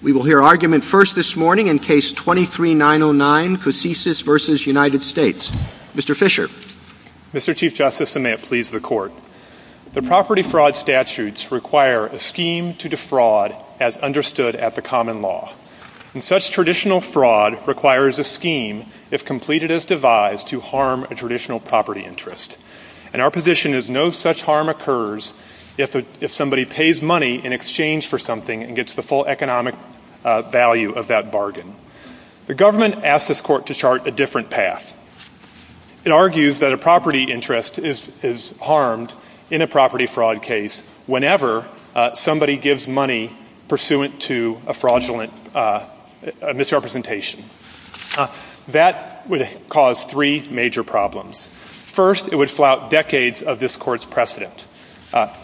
We will hear argument first this morning in Case 23-909, Kousisis v. United States. Mr. Fisher. Mr. Chief Justice, and may it please the Court. The property fraud statutes require a scheme to defraud as understood at the common law. And such traditional fraud requires a scheme, if completed as devised, to harm a traditional property interest. And our position is no such harm occurs if somebody pays money in exchange for something and gets the full economic value of that bargain. The government asks this Court to chart a different path. It argues that a property interest is harmed in a property fraud case whenever somebody gives money pursuant to a fraudulent misrepresentation. That would cause three major problems. First, it would flout decades of this Court's precedent.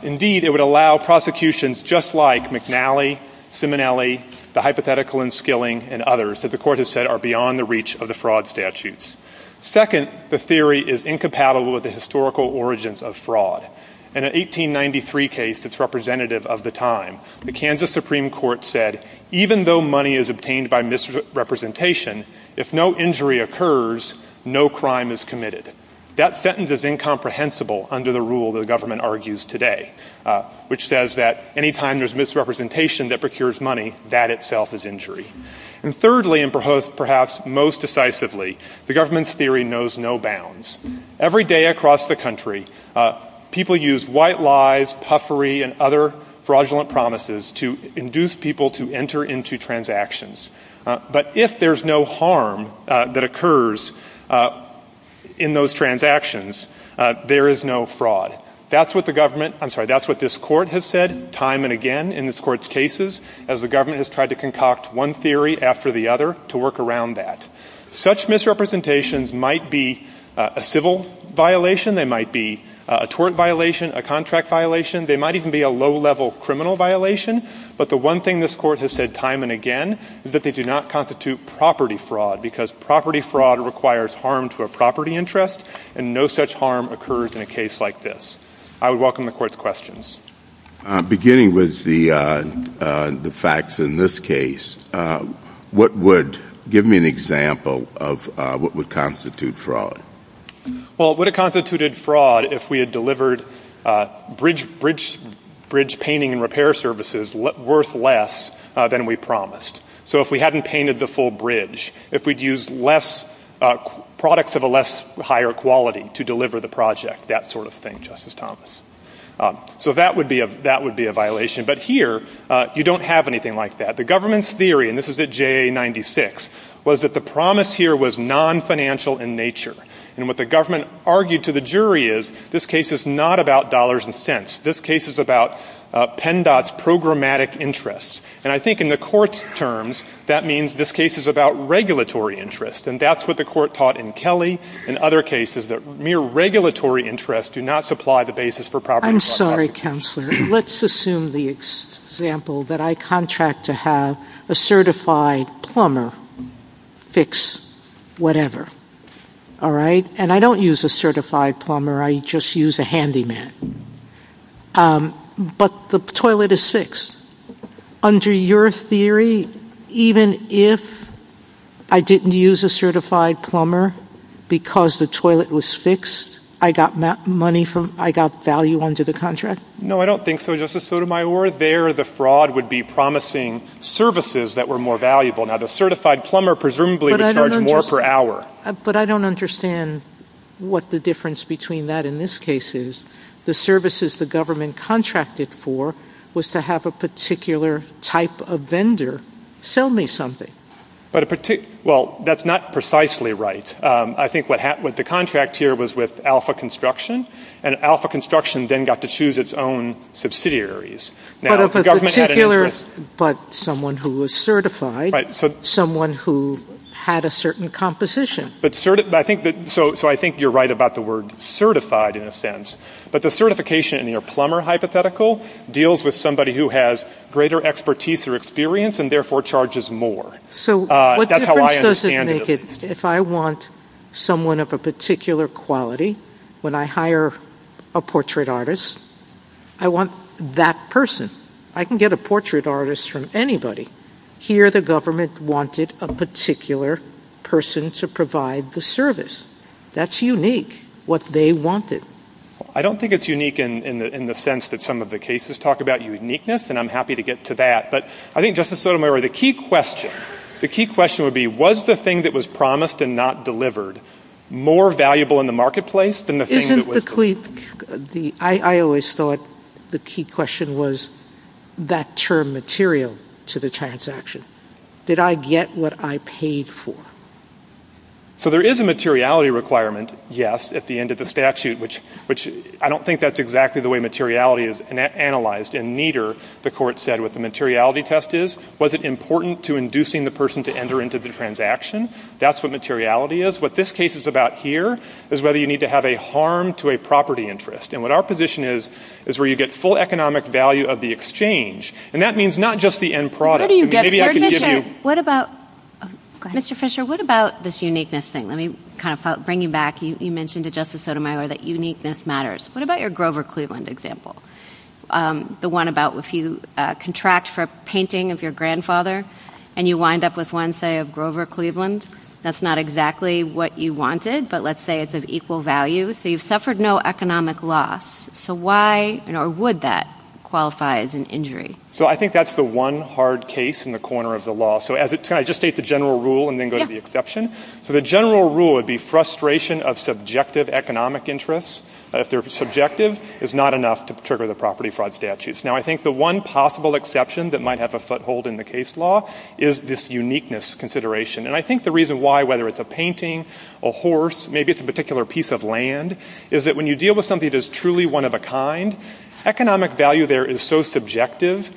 Indeed, it would allow prosecutions just like McNally, Simonelli, the hypothetical in Skilling, and others that the Court has said are beyond the reach of the fraud statutes. Second, the theory is incompatible with the historical origins of fraud. In an 1893 case that's representative of the time, the Kansas Supreme Court said, even though money is obtained by misrepresentation, if no injury occurs, no crime is committed. That sentence is incomprehensible under the rule the government argues today, which says that any time there's misrepresentation that procures money, that itself is injury. And thirdly, and perhaps most decisively, the government's theory knows no bounds. Every day across the country, people use white lies, puffery, and other fraudulent promises to induce people to enter into transactions. But if there's no harm that occurs in those transactions, there is no fraud. That's what this Court has said time and again in this Court's cases, as the government has tried to concoct one theory after the other to work around that. Such misrepresentations might be a civil violation. They might be a tort violation, a contract violation. They might even be a low-level criminal violation. But the one thing this Court has said time and again is that they do not constitute property fraud, because property fraud requires harm to a property interest, and no such harm occurs in a case like this. I would welcome the Court's questions. Beginning with the facts in this case, give me an example of what would constitute fraud. Well, it would have constituted fraud if we had delivered bridge painting and repair services worth less than we promised. So if we hadn't painted the full bridge, if we'd used products of a less higher quality to deliver the project, that sort of thing, Justice Thomas. So that would be a violation. But here, you don't have anything like that. The government's theory, and this is at JA 96, was that the promise here was non-financial in nature. And what the government argued to the jury is this case is not about dollars and cents. This case is about PennDOT's programmatic interests. And I think in the Court's terms, that means this case is about regulatory interests, and that's what the Court taught in Kelly and other cases, that mere regulatory interests do not supply the basis for property fraud. I'm sorry, Counselor. Let's assume the example that I contract to have a certified plumber fix whatever. All right? And I don't use a certified plumber. I just use a handyman. But the toilet is fixed. Under your theory, even if I didn't use a certified plumber because the toilet was fixed, I got value under the contract? No, I don't think so, Justice Sotomayor. There, the fraud would be promising services that were more valuable. Now, the certified plumber presumably would charge more per hour. But I don't understand what the difference between that in this case is. The services the government contracted for was to have a particular type of vendor sell me something. Well, that's not precisely right. I think what the contract here was with Alpha Construction, and Alpha Construction then got to choose its own subsidiaries. But someone who was certified, someone who had a certain composition. So I think you're right about the word certified in a sense. But the certification in your plumber hypothetical deals with somebody who has greater expertise or experience and therefore charges more. That's how I understand it. If I want someone of a particular quality, when I hire a portrait artist, I want that person. I can get a portrait artist from anybody. Here the government wanted a particular person to provide the service. That's unique, what they wanted. I don't think it's unique in the sense that some of the cases talk about uniqueness, and I'm happy to get to that. But I think, Justice Sotomayor, the key question would be, was the thing that was promised and not delivered more valuable in the marketplace than the thing that was delivered? I always thought the key question was that term material to the transaction. Did I get what I paid for? So there is a materiality requirement, yes, at the end of the statute. I don't think that's exactly the way materiality is analyzed, and neither, the court said, what the materiality test is. Was it important to inducing the person to enter into the transaction? That's what materiality is. What this case is about here is whether you need to have a harm to a property interest. And what our position is, is where you get full economic value of the exchange. And that means not just the end product. Mr. Fisher, what about this uniqueness thing? Let me kind of bring you back. You mentioned to Justice Sotomayor that uniqueness matters. What about your Grover Cleveland example? The one about if you contract for a painting of your grandfather, and you wind up with one, say, of Grover Cleveland? That's not exactly what you wanted, but let's say it's of equal value. So you've suffered no economic loss. So why or would that qualify as an injury? So I think that's the one hard case in the corner of the law. So can I just state the general rule and then go to the exception? Yes. So the general rule would be frustration of subjective economic interests. If they're subjective, it's not enough to trigger the property fraud statutes. Now, I think the one possible exception that might have a foothold in the case law is this uniqueness consideration. And I think the reason why, whether it's a painting, a horse, maybe it's a particular piece of land, is that when you deal with something that is truly one of a kind, economic value there is so subjective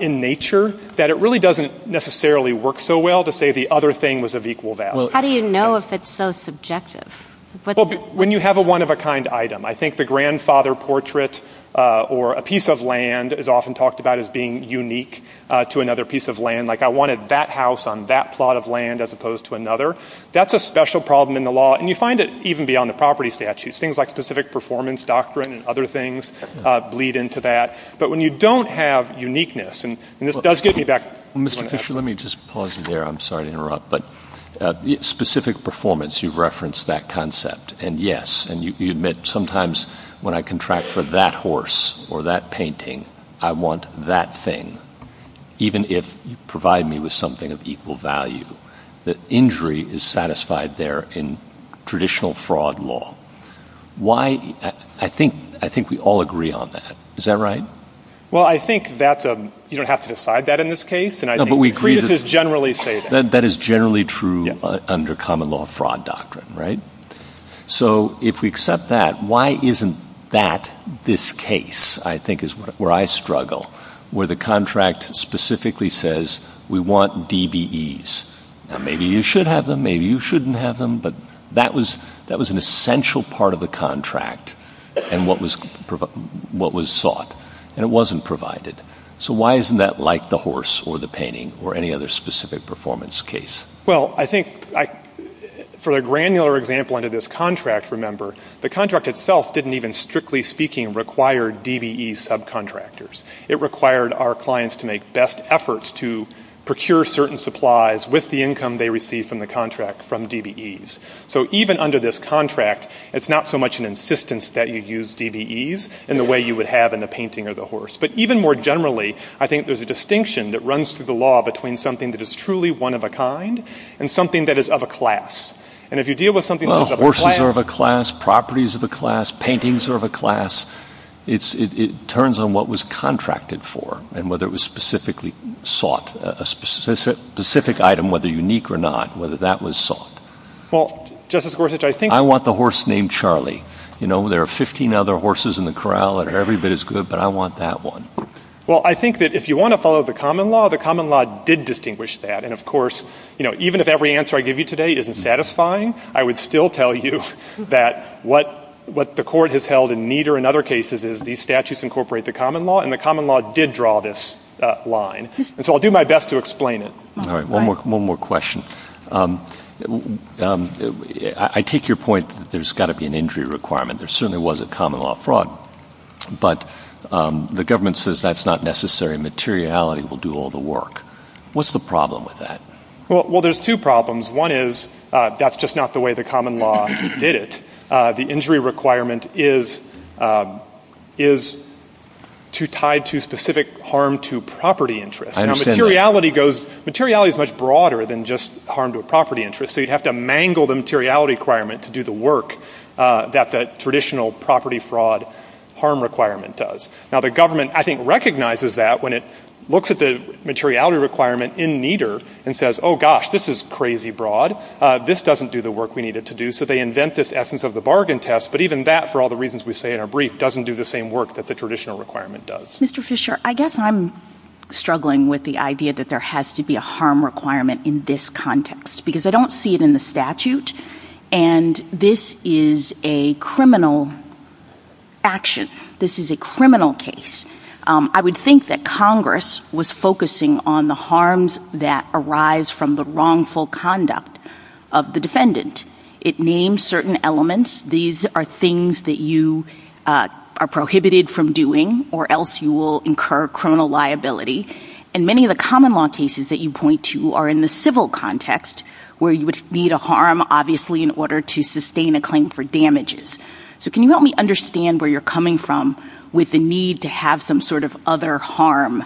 in nature that it really doesn't necessarily work so well to say the other thing was of equal value. How do you know if it's so subjective? When you have a one of a kind item. I think the grandfather portrait or a piece of land is often talked about as being unique to another piece of land. Like I wanted that house on that plot of land as opposed to another. That's a special problem in the law. And you find it even beyond the property statutes. Things like specific performance, doctrine, and other things bleed into that. But when you don't have uniqueness, and this does get me back to my question. Mr. Fisher, let me just pause you there. I'm sorry to interrupt. But specific performance, you've referenced that concept. And, yes, and you admit sometimes when I contract for that horse or that painting, I want that thing. Even if you provide me with something of equal value, the injury is satisfied there in traditional fraud law. I think we all agree on that. Is that right? Well, I think that you don't have to decide that in this case. But we agree that it's generally safe. That is generally true under common law fraud doctrine, right? So if we accept that, why isn't that this case, I think, is where I struggle. Where the contract specifically says, we want DBEs. Now, maybe you should have them. Maybe you shouldn't have them. But that was an essential part of the contract and what was sought. And it wasn't provided. So why isn't that like the horse or the painting or any other specific performance case? Well, I think for the granular example under this contract, remember, the contract itself didn't even, strictly speaking, require DBE subcontractors. It required our clients to make best efforts to procure certain supplies with the income they received from the contract from DBEs. So even under this contract, it's not so much an insistence that you use DBEs in the way you would have in the painting or the horse. But even more generally, I think there's a distinction that runs through the law between something that is truly one of a kind and something that is of a class. Well, horses are of a class. Properties are of a class. Paintings are of a class. It turns on what was contracted for and whether it was specifically sought, a specific item, whether unique or not, whether that was sought. Well, Justice Gorsuch, I think — I want the horse named Charlie. You know, there are 15 other horses in the corral and every bit is good, but I want that one. Well, I think that if you want to follow the common law, the common law did distinguish that. And, of course, you know, even if every answer I give you today isn't satisfying, I would still tell you that what the court has held in neither and other cases is these statutes incorporate the common law, and the common law did draw this line. And so I'll do my best to explain it. All right, one more question. I take your point that there's got to be an injury requirement. There certainly was a common law fraud. But the government says that's not necessary. Materiality will do all the work. What's the problem with that? Well, there's two problems. One is that's just not the way the common law did it. The injury requirement is tied to specific harm to property interest. Materiality is much broader than just harm to a property interest. So you'd have to mangle the materiality requirement to do the work that the traditional property fraud harm requirement does. Now, the government, I think, recognizes that when it looks at the materiality requirement in neither and says, oh, gosh, this is crazy broad. This doesn't do the work we need it to do. So they invent this essence of the bargain test. But even that, for all the reasons we say in our brief, doesn't do the same work that the traditional requirement does. Mr. Fisher, I guess I'm struggling with the idea that there has to be a harm requirement in this context because I don't see it in the statute. And this is a criminal action. This is a criminal case. I would think that Congress was focusing on the harms that arise from the wrongful conduct of the defendant. It names certain elements. These are things that you are prohibited from doing or else you will incur criminal liability. And many of the common law cases that you point to are in the civil context where you would need a harm, obviously, in order to sustain a claim for damages. So can you help me understand where you're coming from with the need to have some sort of other harm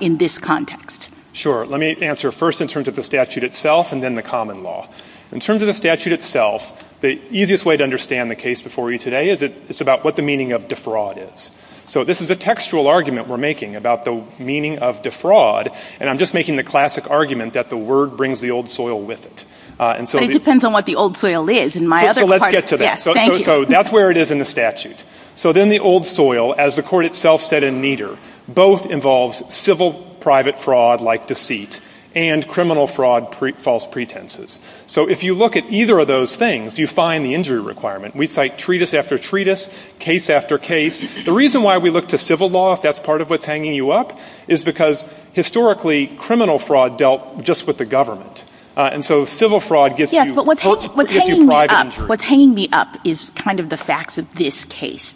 in this context? Sure. Let me answer first in terms of the statute itself and then the common law. In terms of the statute itself, the easiest way to understand the case before you today is it's about what the meaning of defraud is. So this is a textual argument we're making about the meaning of defraud. And I'm just making the classic argument that the word brings the old soil with it. It depends on what the old soil is. Let's get to that. So that's where it is in the statute. So then the old soil, as the court itself said in Nieder, both involves civil private fraud like deceit and criminal fraud, false pretenses. So if you look at either of those things, you find the injury requirement. We cite treatise after treatise, case after case. The reason why we look to civil law, if that's part of what's hanging you up, is because historically criminal fraud dealt just with the government. Yes, but what's hanging me up is kind of the facts of this case.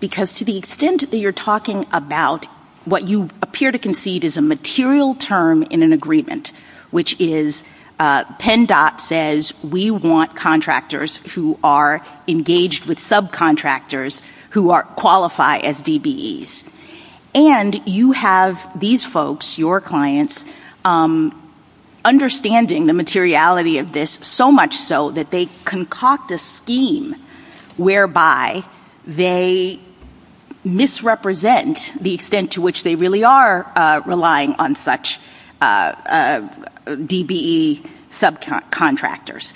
Because to the extent that you're talking about what you appear to concede is a material term in an agreement, which is PennDOT says we want contractors who are engaged with subcontractors who qualify as DBEs. And you have these folks, your clients, understanding the materiality of this so much so that they concoct a scheme whereby they misrepresent the extent to which they really are relying on such DBE subcontractors.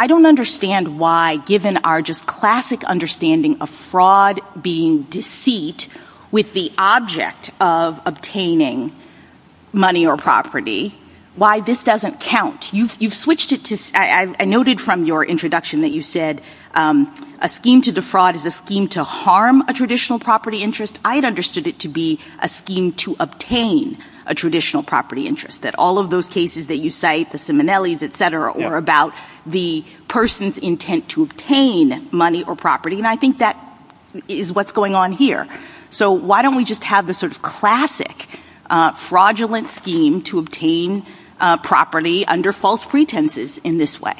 I don't understand why, given our just classic understanding of fraud being deceit with the object of obtaining money or property, why this doesn't count. You've switched it to – I noted from your introduction that you said a scheme to defraud is a scheme to harm a traditional property interest. I had understood it to be a scheme to obtain a traditional property interest. That all of those cases that you cite, the Simonellis, etc., were about the person's intent to obtain money or property. And I think that is what's going on here. So why don't we just have this sort of classic fraudulent scheme to obtain property under false pretenses in this way?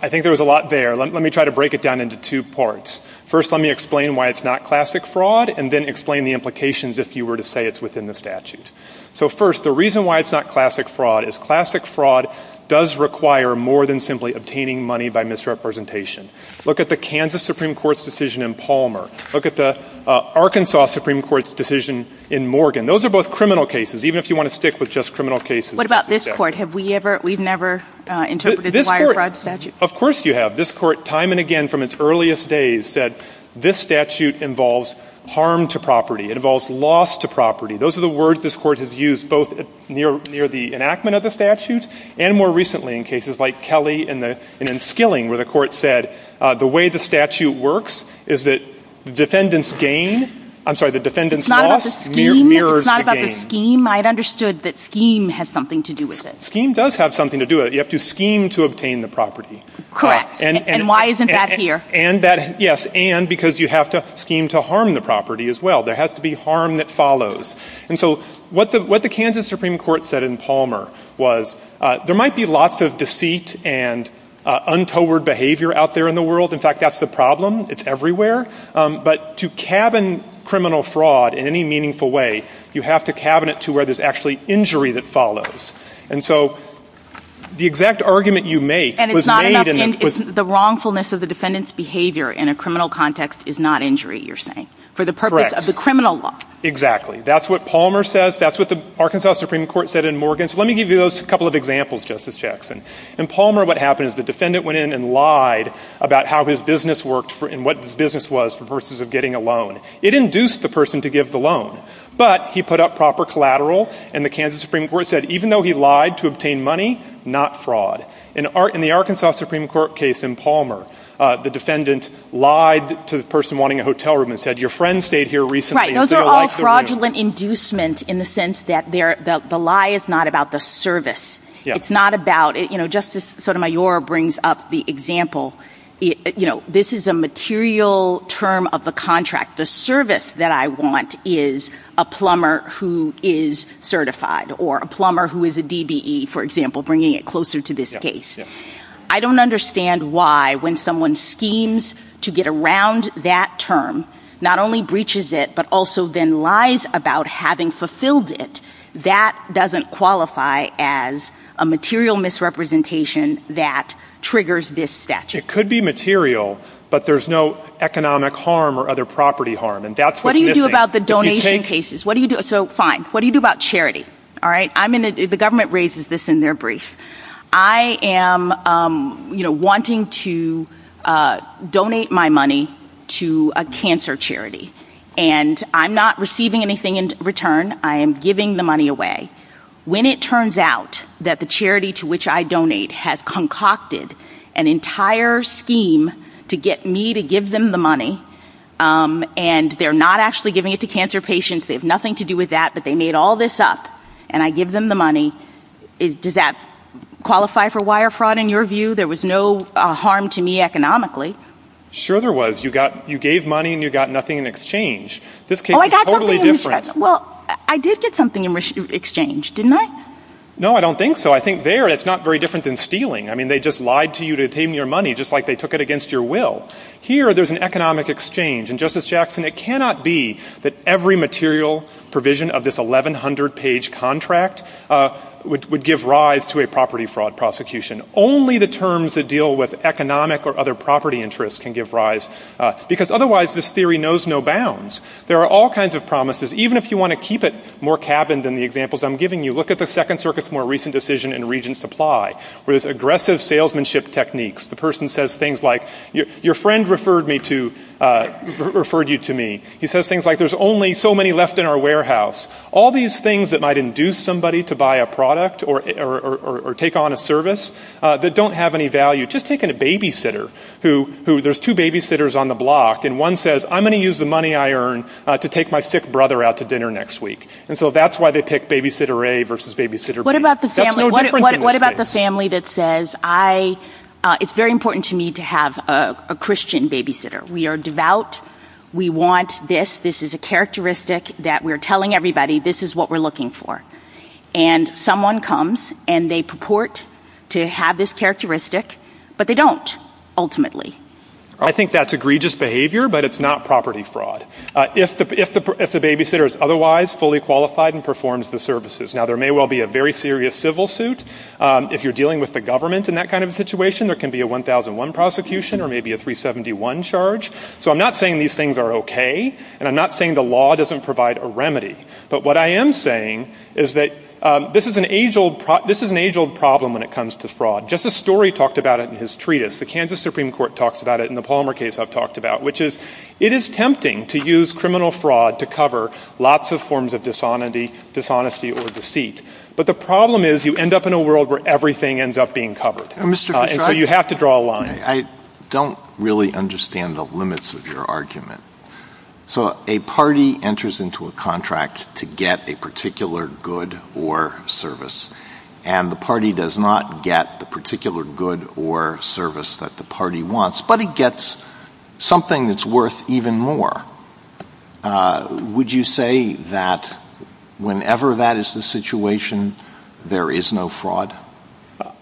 I think there was a lot there. Let me try to break it down into two parts. First, let me explain why it's not classic fraud and then explain the implications if you were to say it's within the statute. So first, the reason why it's not classic fraud is classic fraud does require more than simply obtaining money by misrepresentation. Look at the Kansas Supreme Court's decision in Palmer. Look at the Arkansas Supreme Court's decision in Morgan. Those are both criminal cases, even if you want to stick with just criminal cases. What about this court? Have we ever – we've never interpreted the wire fraud statute? Of course you have. This court, time and again from its earliest days, said this statute involves harm to property. It involves loss to property. Those are the words this court has used both near the enactment of the statute and more recently in cases like Kelly and in Skilling, where the court said the way the statute works is that the defendant's gain – I'm sorry, the defendant's loss mirrors the gain. It's not about the scheme. I've understood that scheme has something to do with it. Scheme does have something to do with it. You have to scheme to obtain the property. Correct. And why isn't that here? Yes, and because you have to scheme to harm the property as well. There has to be harm that follows. And so what the Kansas Supreme Court said in Palmer was there might be lots of deceit and untoward behavior out there in the world. In fact, that's the problem. It's everywhere. But to cabin criminal fraud in any meaningful way, you have to cabin it to where there's actually injury that follows. And so the exact argument you make was made in – The wrongfulness of the defendant's behavior in a criminal context is not injury, you're saying, for the purpose of the criminal law. Exactly. That's what Palmer says. That's what the Arkansas Supreme Court said in Morgan. So let me give you those couple of examples, Justice Jackson. In Palmer, what happened is the defendant went in and lied about how his business worked and what his business was versus getting a loan. It induced the person to give the loan, but he put up proper collateral, and the Kansas Supreme Court said even though he lied to obtain money, not fraud. In the Arkansas Supreme Court case in Palmer, the defendant lied to the person wanting a hotel room and said your friend stayed here recently. Right, those are all fraudulent inducements in the sense that the lie is not about the service. It's not about – Justice Sotomayor brings up the example. This is a material term of the contract. The service that I want is a plumber who is certified or a plumber who is a DBE, for example, bringing it closer to this case. I don't understand why when someone schemes to get around that term, not only breaches it, but also then lies about having fulfilled it, that doesn't qualify as a material misrepresentation that triggers this statute. It could be material, but there's no economic harm or other property harm. What do you do about the donation cases? Fine. What do you do about charity? The government raises this in their brief. I am wanting to donate my money to a cancer charity, and I'm not receiving anything in return. I am giving the money away. When it turns out that the charity to which I donate has concocted an entire scheme to get me to give them the money, and they're not actually giving it to cancer patients, they have nothing to do with that, but they made all this up, and I give them the money, does that qualify for wire fraud in your view? There was no harm to me economically. Sure there was. You gave money and you got nothing in exchange. Oh, I got something in exchange. Well, I did get something in exchange, didn't I? No, I don't think so. I think there it's not very different than stealing. I mean, they just lied to you to take your money just like they took it against your will. Here there's an economic exchange, and, Justice Jackson, it cannot be that every material provision of this 1,100-page contract would give rise to a property fraud prosecution. Only the terms that deal with economic or other property interests can give rise, because otherwise this theory knows no bounds. There are all kinds of promises. Even if you want to keep it more cabined than the examples I'm giving you, look at the Second Circuit's more recent decision in Regents Supply, where there's aggressive salesmanship techniques. The person says things like, your friend referred you to me. He says things like, there's only so many left in our warehouse. All these things that might induce somebody to buy a product or take on a service that don't have any value. Just think of a babysitter. There's two babysitters on the block, and one says, I'm going to use the money I earn to take my sick brother out to dinner next week. And so that's why they pick babysitter A versus babysitter B. What about the family that says, it's very important to me to have a Christian babysitter. We are devout. We want this. This is a characteristic that we're telling everybody this is what we're looking for. And someone comes and they purport to have this characteristic, but they don't, ultimately. I think that's egregious behavior, but it's not property fraud. If the babysitter is otherwise fully qualified and performs the services. Now there may well be a very serious civil suit. If you're dealing with the government in that kind of situation, there can be a 1001 prosecution or maybe a 371 charge. So I'm not saying these things are okay, and I'm not saying the law doesn't provide a remedy. But what I am saying is that this is an age-old problem when it comes to fraud. Justice Story talked about it in his treatise. The Kansas Supreme Court talks about it in the Palmer case I've talked about, which is it is tempting to use criminal fraud to cover lots of forms of dishonesty or deceit. But the problem is you end up in a world where everything ends up being covered. And so you have to draw a line. I don't really understand the limits of your argument. So a party enters into a contract to get a particular good or service, and the party does not get the particular good or service that the party wants, but it gets something that's worth even more. Would you say that whenever that is the situation, there is no fraud?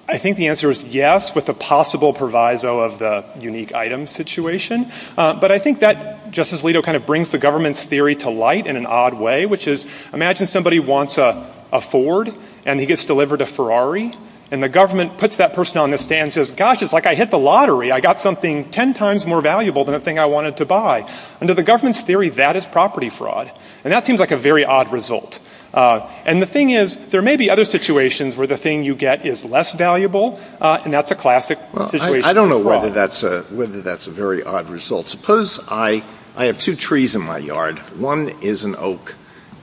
I think the answer is yes, with the possible proviso of the unique item situation. But I think that, Justice Alito, kind of brings the government's theory to light in an odd way, which is imagine somebody wants a Ford, and he gets delivered a Ferrari, and the government puts that person on the stand and says, gosh, it's like I hit the lottery. I got something ten times more valuable than the thing I wanted to buy. Under the government's theory, that is property fraud. And that seems like a very odd result. And the thing is there may be other situations where the thing you get is less valuable, and that's a classic situation as well. Whether that's a very odd result. Suppose I have two trees in my yard. One is an oak,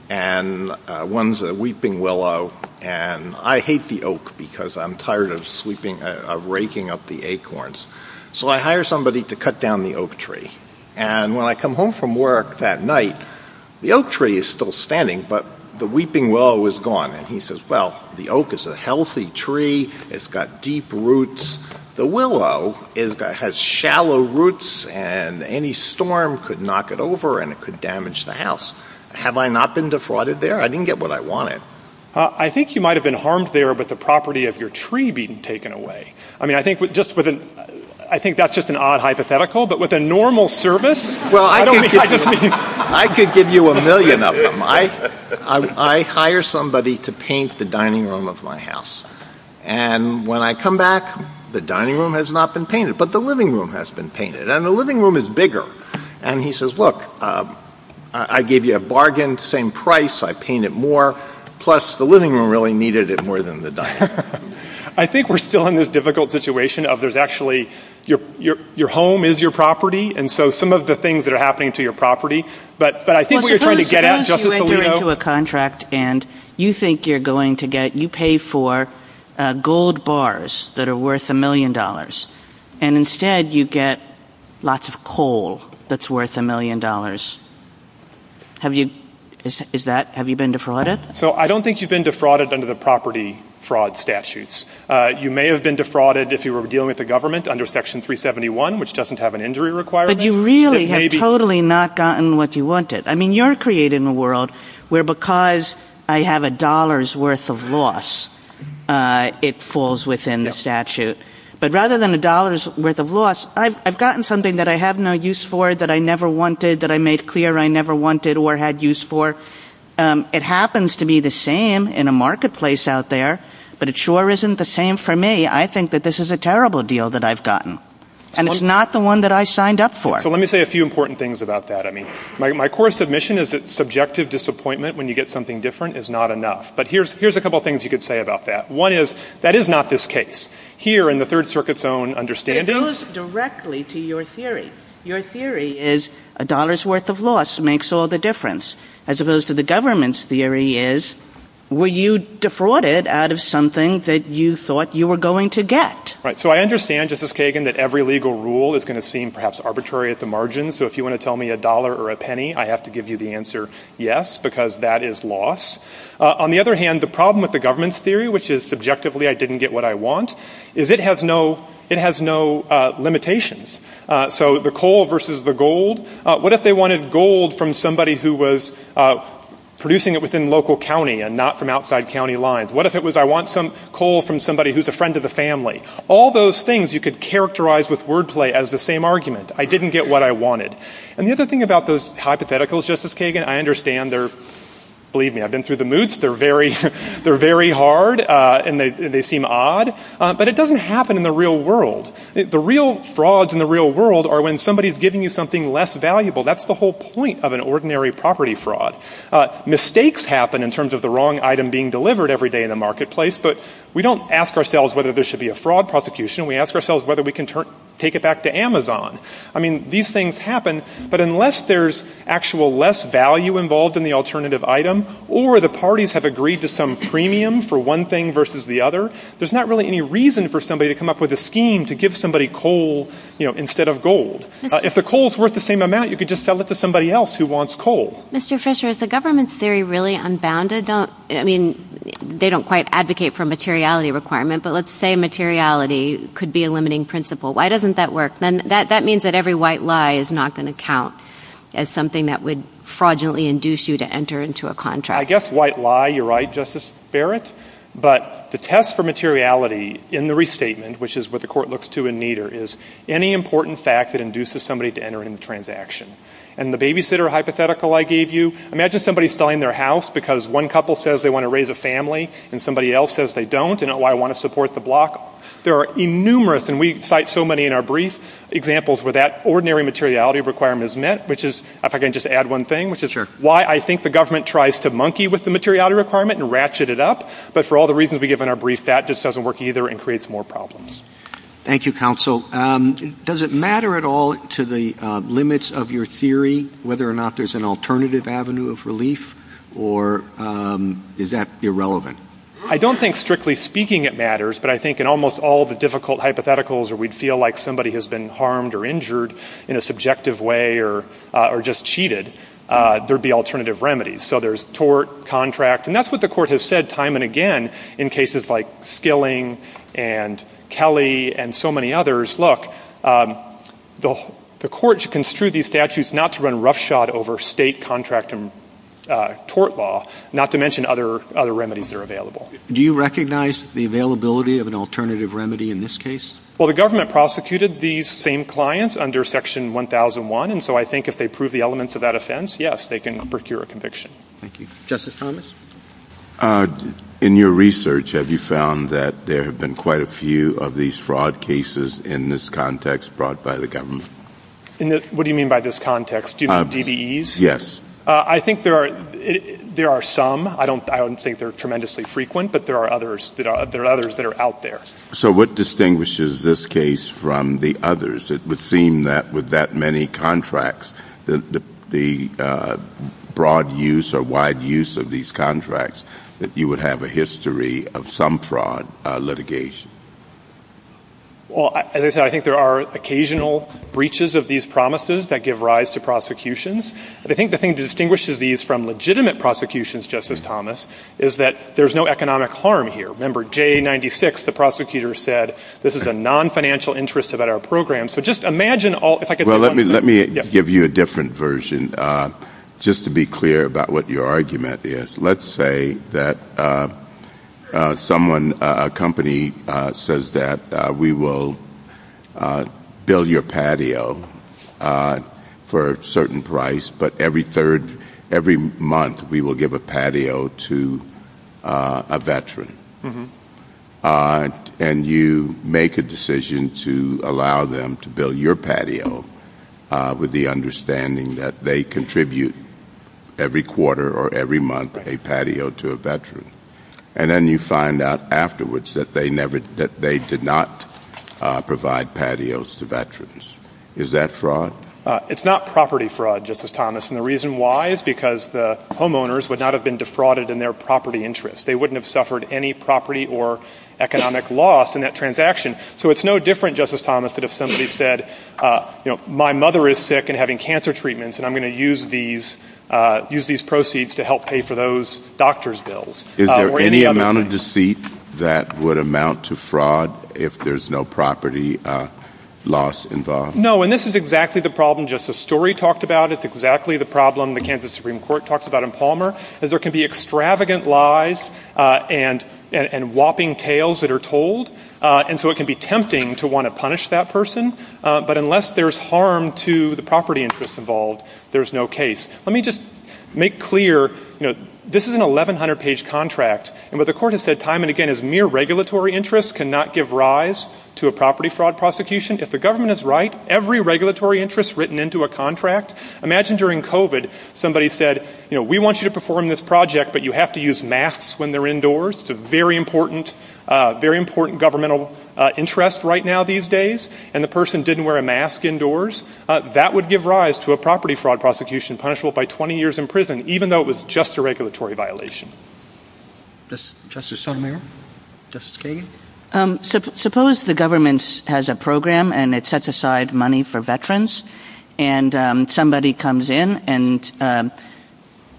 and one's a weeping willow. And I hate the oak because I'm tired of raking up the acorns. So I hire somebody to cut down the oak tree. And when I come home from work that night, the oak tree is still standing, but the weeping willow is gone. And he says, well, the oak is a healthy tree. It's got deep roots. The willow has shallow roots, and any storm could knock it over and it could damage the house. Have I not been defrauded there? I didn't get what I wanted. I think you might have been harmed there with the property of your tree being taken away. I mean, I think that's just an odd hypothetical, but with a normal service, I don't think I could be. I could give you a million of them. I hire somebody to paint the dining room of my house. And when I come back, the dining room has not been painted, but the living room has been painted, and the living room is bigger. And he says, look, I gave you a bargain, same price, I paint it more, plus the living room really needed it more than the dining room. I think we're still in this difficult situation of there's actually your home is your property, and so some of the things that are happening to your property, but I think we're trying to get at Justice Alito. You get into a contract, and you think you're going to get, you pay for gold bars that are worth a million dollars, and instead you get lots of coal that's worth a million dollars. Have you been defrauded? So I don't think you've been defrauded under the property fraud statutes. You may have been defrauded if you were dealing with the government under Section 371, which doesn't have an injury requirement. But you really have totally not gotten what you wanted. I mean, you're created in a world where because I have a dollar's worth of loss, it falls within the statute. But rather than a dollar's worth of loss, I've gotten something that I have no use for, that I never wanted, that I made clear I never wanted or had use for. It happens to be the same in a marketplace out there, but it sure isn't the same for me. I think that this is a terrible deal that I've gotten, and it's not the one that I signed up for. So let me say a few important things about that. I mean, my core submission is that subjective disappointment when you get something different is not enough. But here's a couple things you could say about that. One is that is not this case. Here, in the Third Circuit's own understanding – It goes directly to your theory. Your theory is a dollar's worth of loss makes all the difference, as opposed to the government's theory is were you defrauded out of something that you thought you were going to get? Right. So I understand, Justice Kagan, that every legal rule is going to seem perhaps arbitrary at the margins. So if you want to tell me a dollar or a penny, I have to give you the answer yes, because that is loss. On the other hand, the problem with the government's theory, which is subjectively I didn't get what I want, is it has no limitations. So the coal versus the gold. What if they wanted gold from somebody who was producing it within local county and not from outside county lines? What if it was I want some coal from somebody who's a friend of the family? All those things you could characterize with wordplay as the same argument. I didn't get what I wanted. And the other thing about those hypotheticals, Justice Kagan, I understand they're – believe me, I've been through the moots – they're very hard and they seem odd, but it doesn't happen in the real world. The real frauds in the real world are when somebody's giving you something less valuable. That's the whole point of an ordinary property fraud. Mistakes happen in terms of the wrong item being delivered every day in the marketplace, but we don't ask ourselves whether there should be a fraud prosecution. We ask ourselves whether we can take it back to Amazon. I mean, these things happen, but unless there's actual less value involved in the alternative item or the parties have agreed to some premium for one thing versus the other, there's not really any reason for somebody to come up with a scheme to give somebody coal instead of gold. If the coal's worth the same amount, you could just sell it to somebody else who wants coal. Mr. Fisher, is the government's theory really unbounded? I don't – I mean, they don't quite advocate for a materiality requirement, but let's say materiality could be a limiting principle. Why doesn't that work? That means that every white lie is not going to count as something that would fraudulently induce you to enter into a contract. I guess white lie, you're right, Justice Barrett, but the test for materiality in the restatement, which is what the court looks to in Nader, is any important fact that induces somebody to enter in the transaction. And the babysitter hypothetical I gave you, imagine somebody's selling their house because one couple says they want to raise a family and somebody else says they don't and, oh, I want to support the block. There are numerous, and we cite so many in our brief, examples where that ordinary materiality requirement is met, which is, if I can just add one thing, which is why I think the government tries to monkey with the materiality requirement and ratchet it up, but for all the reasons we give in our brief, that just doesn't work either and creates more problems. Thank you, counsel. Does it matter at all to the limits of your theory whether or not there's an alternative avenue of relief, or is that irrelevant? I don't think strictly speaking it matters, but I think in almost all the difficult hypotheticals where we'd feel like somebody has been harmed or injured in a subjective way or just cheated, there'd be alternative remedies. So there's tort, contract, and that's what the court has said time and again in cases like Skilling and Kelly and so many others, look, the court should construe these statutes not to run roughshod over state, contract, and tort law, not to mention other remedies that are available. Do you recognize the availability of an alternative remedy in this case? Well, the government prosecuted these same clients under Section 1001, and so I think if they prove the elements of that offense, yes, they can procure a conviction. Thank you. Justice Thomas? In your research, have you found that there have been quite a few of these fraud cases in this context brought by the government? What do you mean by this context? Do you mean DBEs? Yes. I think there are some. I wouldn't say they're tremendously frequent, but there are others that are out there. So what distinguishes this case from the others? It would seem that with that many contracts, the broad use or wide use of these contracts, that you would have a history of some fraud litigation. Well, as I said, I think there are occasional breaches of these promises that give rise to prosecutions, but I think the thing that distinguishes these from legitimate prosecutions, Justice Thomas, is that there's no economic harm here. Remember, J96, the prosecutor said, this is a non-financial interest about our program. So just imagine all – Well, let me give you a different version, just to be clear about what your argument is. Let's say that someone, a company, says that we will bill your patio for a certain price, but every month we will give a patio to a veteran. And you make a decision to allow them to bill your patio with the understanding that they contribute every quarter or every month a patio to a veteran. And then you find out afterwards that they did not provide patios to veterans. Is that fraud? It's not property fraud, Justice Thomas. And the reason why is because the homeowners would not have been defrauded in their property interest. They wouldn't have suffered any property or economic loss in that transaction. So it's no different, Justice Thomas, than if somebody said, you know, my mother is sick and having cancer treatments, and I'm going to use these proceeds to help pay for those doctor's bills. Is there any amount of deceit that would amount to fraud if there's no property loss involved? No, and this is exactly the problem Justice Story talked about. It's exactly the problem the Kansas Supreme Court talks about in Palmer, is there can be extravagant lies and whopping tales that are told, and so it can be tempting to want to punish that person. But unless there's harm to the property interest involved, there's no case. Let me just make clear, you know, this is an 1,100-page contract, and what the Court has said time and again is mere regulatory interest cannot give rise to a property fraud prosecution. If the government is right, every regulatory interest written into a contract, imagine during COVID, somebody said, you know, we want you to perform this project, but you have to use masks when they're indoors. It's a very important, very important governmental interest right now these days. And the person didn't wear a mask indoors. That would give rise to a property fraud prosecution punishable by 20 years in prison, even though it was just a regulatory violation. Justice Sotomayor? Justice Kagan? Suppose the government has a program and it sets aside money for veterans, and somebody comes in and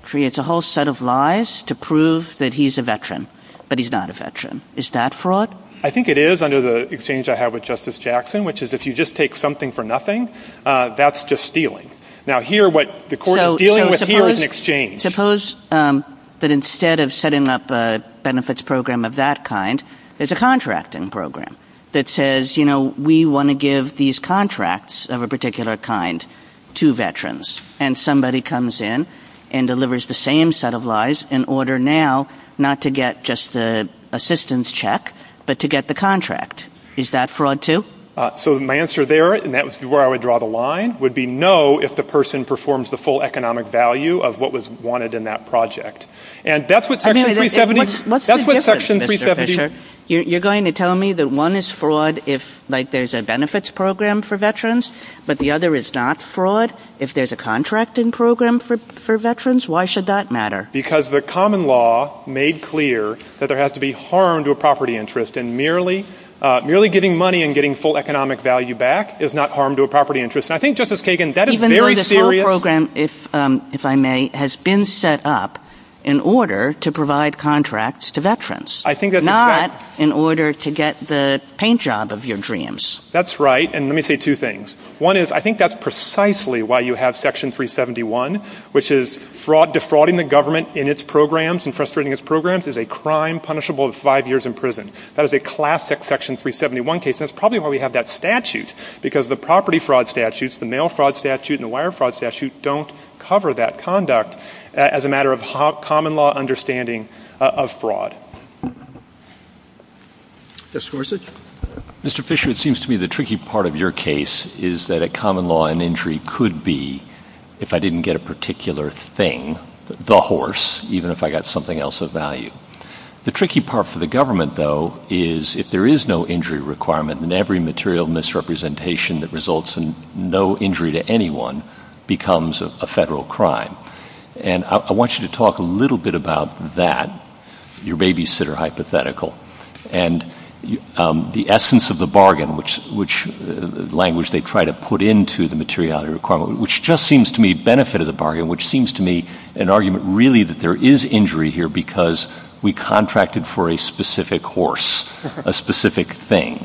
creates a whole set of lies to prove that he's a veteran, but he's not a veteran. Is that fraud? I think it is under the exchange I have with Justice Jackson, which is if you just take something for nothing, that's just stealing. Now, here what the Court is dealing with here is an exchange. Suppose that instead of setting up a benefits program of that kind, it's a contracting program that says, you know, we want to give these contracts of a particular kind to veterans, and somebody comes in and delivers the same set of lies in order now not to get just the assistance check, but to get the contract. Is that fraud too? So my answer there, and that's where I would draw the line, would be no if the person performs the full economic value of what was wanted in that project. And that's what Section 370... What's the difference, Mr. Fisher? You're going to tell me that one is fraud if, like, there's a benefits program for veterans, but the other is not fraud? If there's a contracting program for veterans, why should that matter? Because the common law made clear that there has to be harm to a property interest, and merely giving money and getting full economic value back is not harm to a property interest. And I think, Justice Kagan, that is very serious. Even though this whole program, if I may, has been set up in order to provide contracts to veterans, not in order to get the paint job of your dreams. That's right, and let me say two things. One is I think that's precisely why you have Section 371, which is defrauding the government in its programs and frustrating its programs is a crime punishable with five years in prison. That is a classic Section 371 case, and it's probably why we have that statute, because the property fraud statutes, the mail fraud statute, and the wire fraud statute don't cover that conduct as a matter of common law understanding of fraud. Justice Gorsuch? Mr. Fisher, it seems to me the tricky part of your case is that a common law in injury could be, if I didn't get a particular thing, the horse, even if I got something else of value. The tricky part for the government, though, is if there is no injury requirement and every material misrepresentation that results in no injury to anyone becomes a federal crime. And I want you to talk a little bit about that, your babysitter hypothetical, and the essence of the bargain, which language they try to put into the materiality requirement, which just seems to me benefit of the bargain, which seems to me an argument really that there is injury here because we contracted for a specific horse, a specific thing.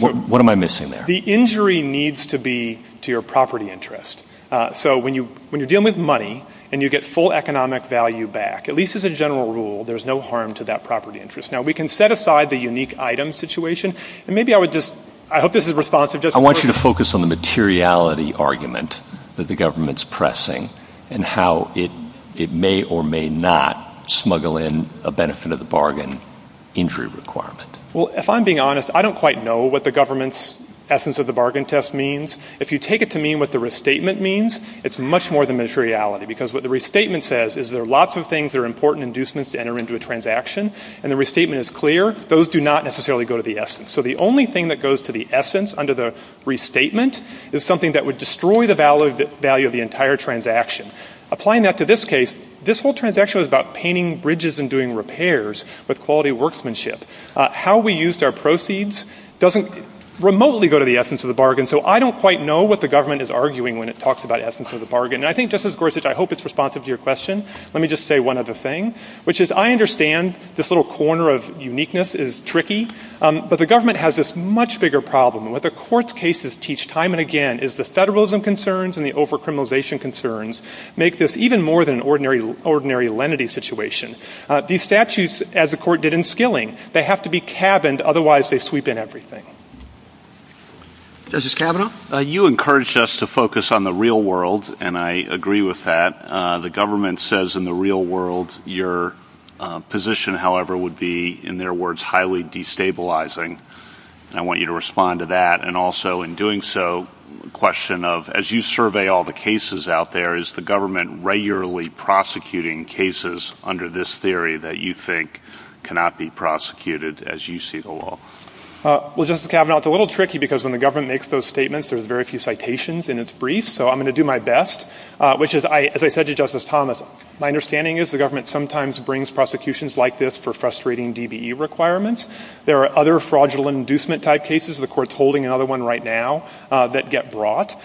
What am I missing there? The injury needs to be to your property interest. So when you're dealing with money and you get full economic value back, at least as a general rule, there's no harm to that property interest. Now, we can set aside the unique item situation, and maybe I would just – I hope this is responsive. I want you to focus on the materiality argument that the government is pressing and how it may or may not smuggle in a benefit of the bargain injury requirement. Well, if I'm being honest, I don't quite know what the government's essence of the bargain test means. If you take it to mean what the restatement means, it's much more than materiality because what the restatement says is there are lots of things that are important inducements to enter into a transaction, and the restatement is clear. Those do not necessarily go to the essence. So the only thing that goes to the essence under the restatement is something that would destroy the value of the entire transaction. Applying that to this case, this whole transaction was about painting bridges and doing repairs with quality workmanship. How we used our proceeds doesn't remotely go to the essence of the bargain, so I don't quite know what the government is arguing when it talks about essence of the bargain. And I think, just as Gorsuch, I hope it's responsive to your question, let me just say one other thing, which is I understand this little corner of uniqueness is tricky, but the government has this much bigger problem. What the court's cases teach time and again is the federalism concerns and the over-criminalization concerns make this even more than an ordinary lenity situation. These statutes, as the court did in Skilling, they have to be cabined, otherwise they sweep in everything. Justice Kavanaugh? You encouraged us to focus on the real world, and I agree with that. The government says in the real world your position, however, would be, in their words, highly destabilizing. I want you to respond to that, and also in doing so, a question of, as you survey all the cases out there, is the government regularly prosecuting cases under this theory that you think cannot be prosecuted as you see the law? Well, Justice Kavanaugh, it's a little tricky because when the government makes those statements, there's very few citations in its brief, so I'm going to do my best, which is, as I said to Justice Thomas, my understanding is the government sometimes brings prosecutions like this for frustrating DBE requirements. There are other fraudulent inducement-type cases. The court's holding another one right now that get brought.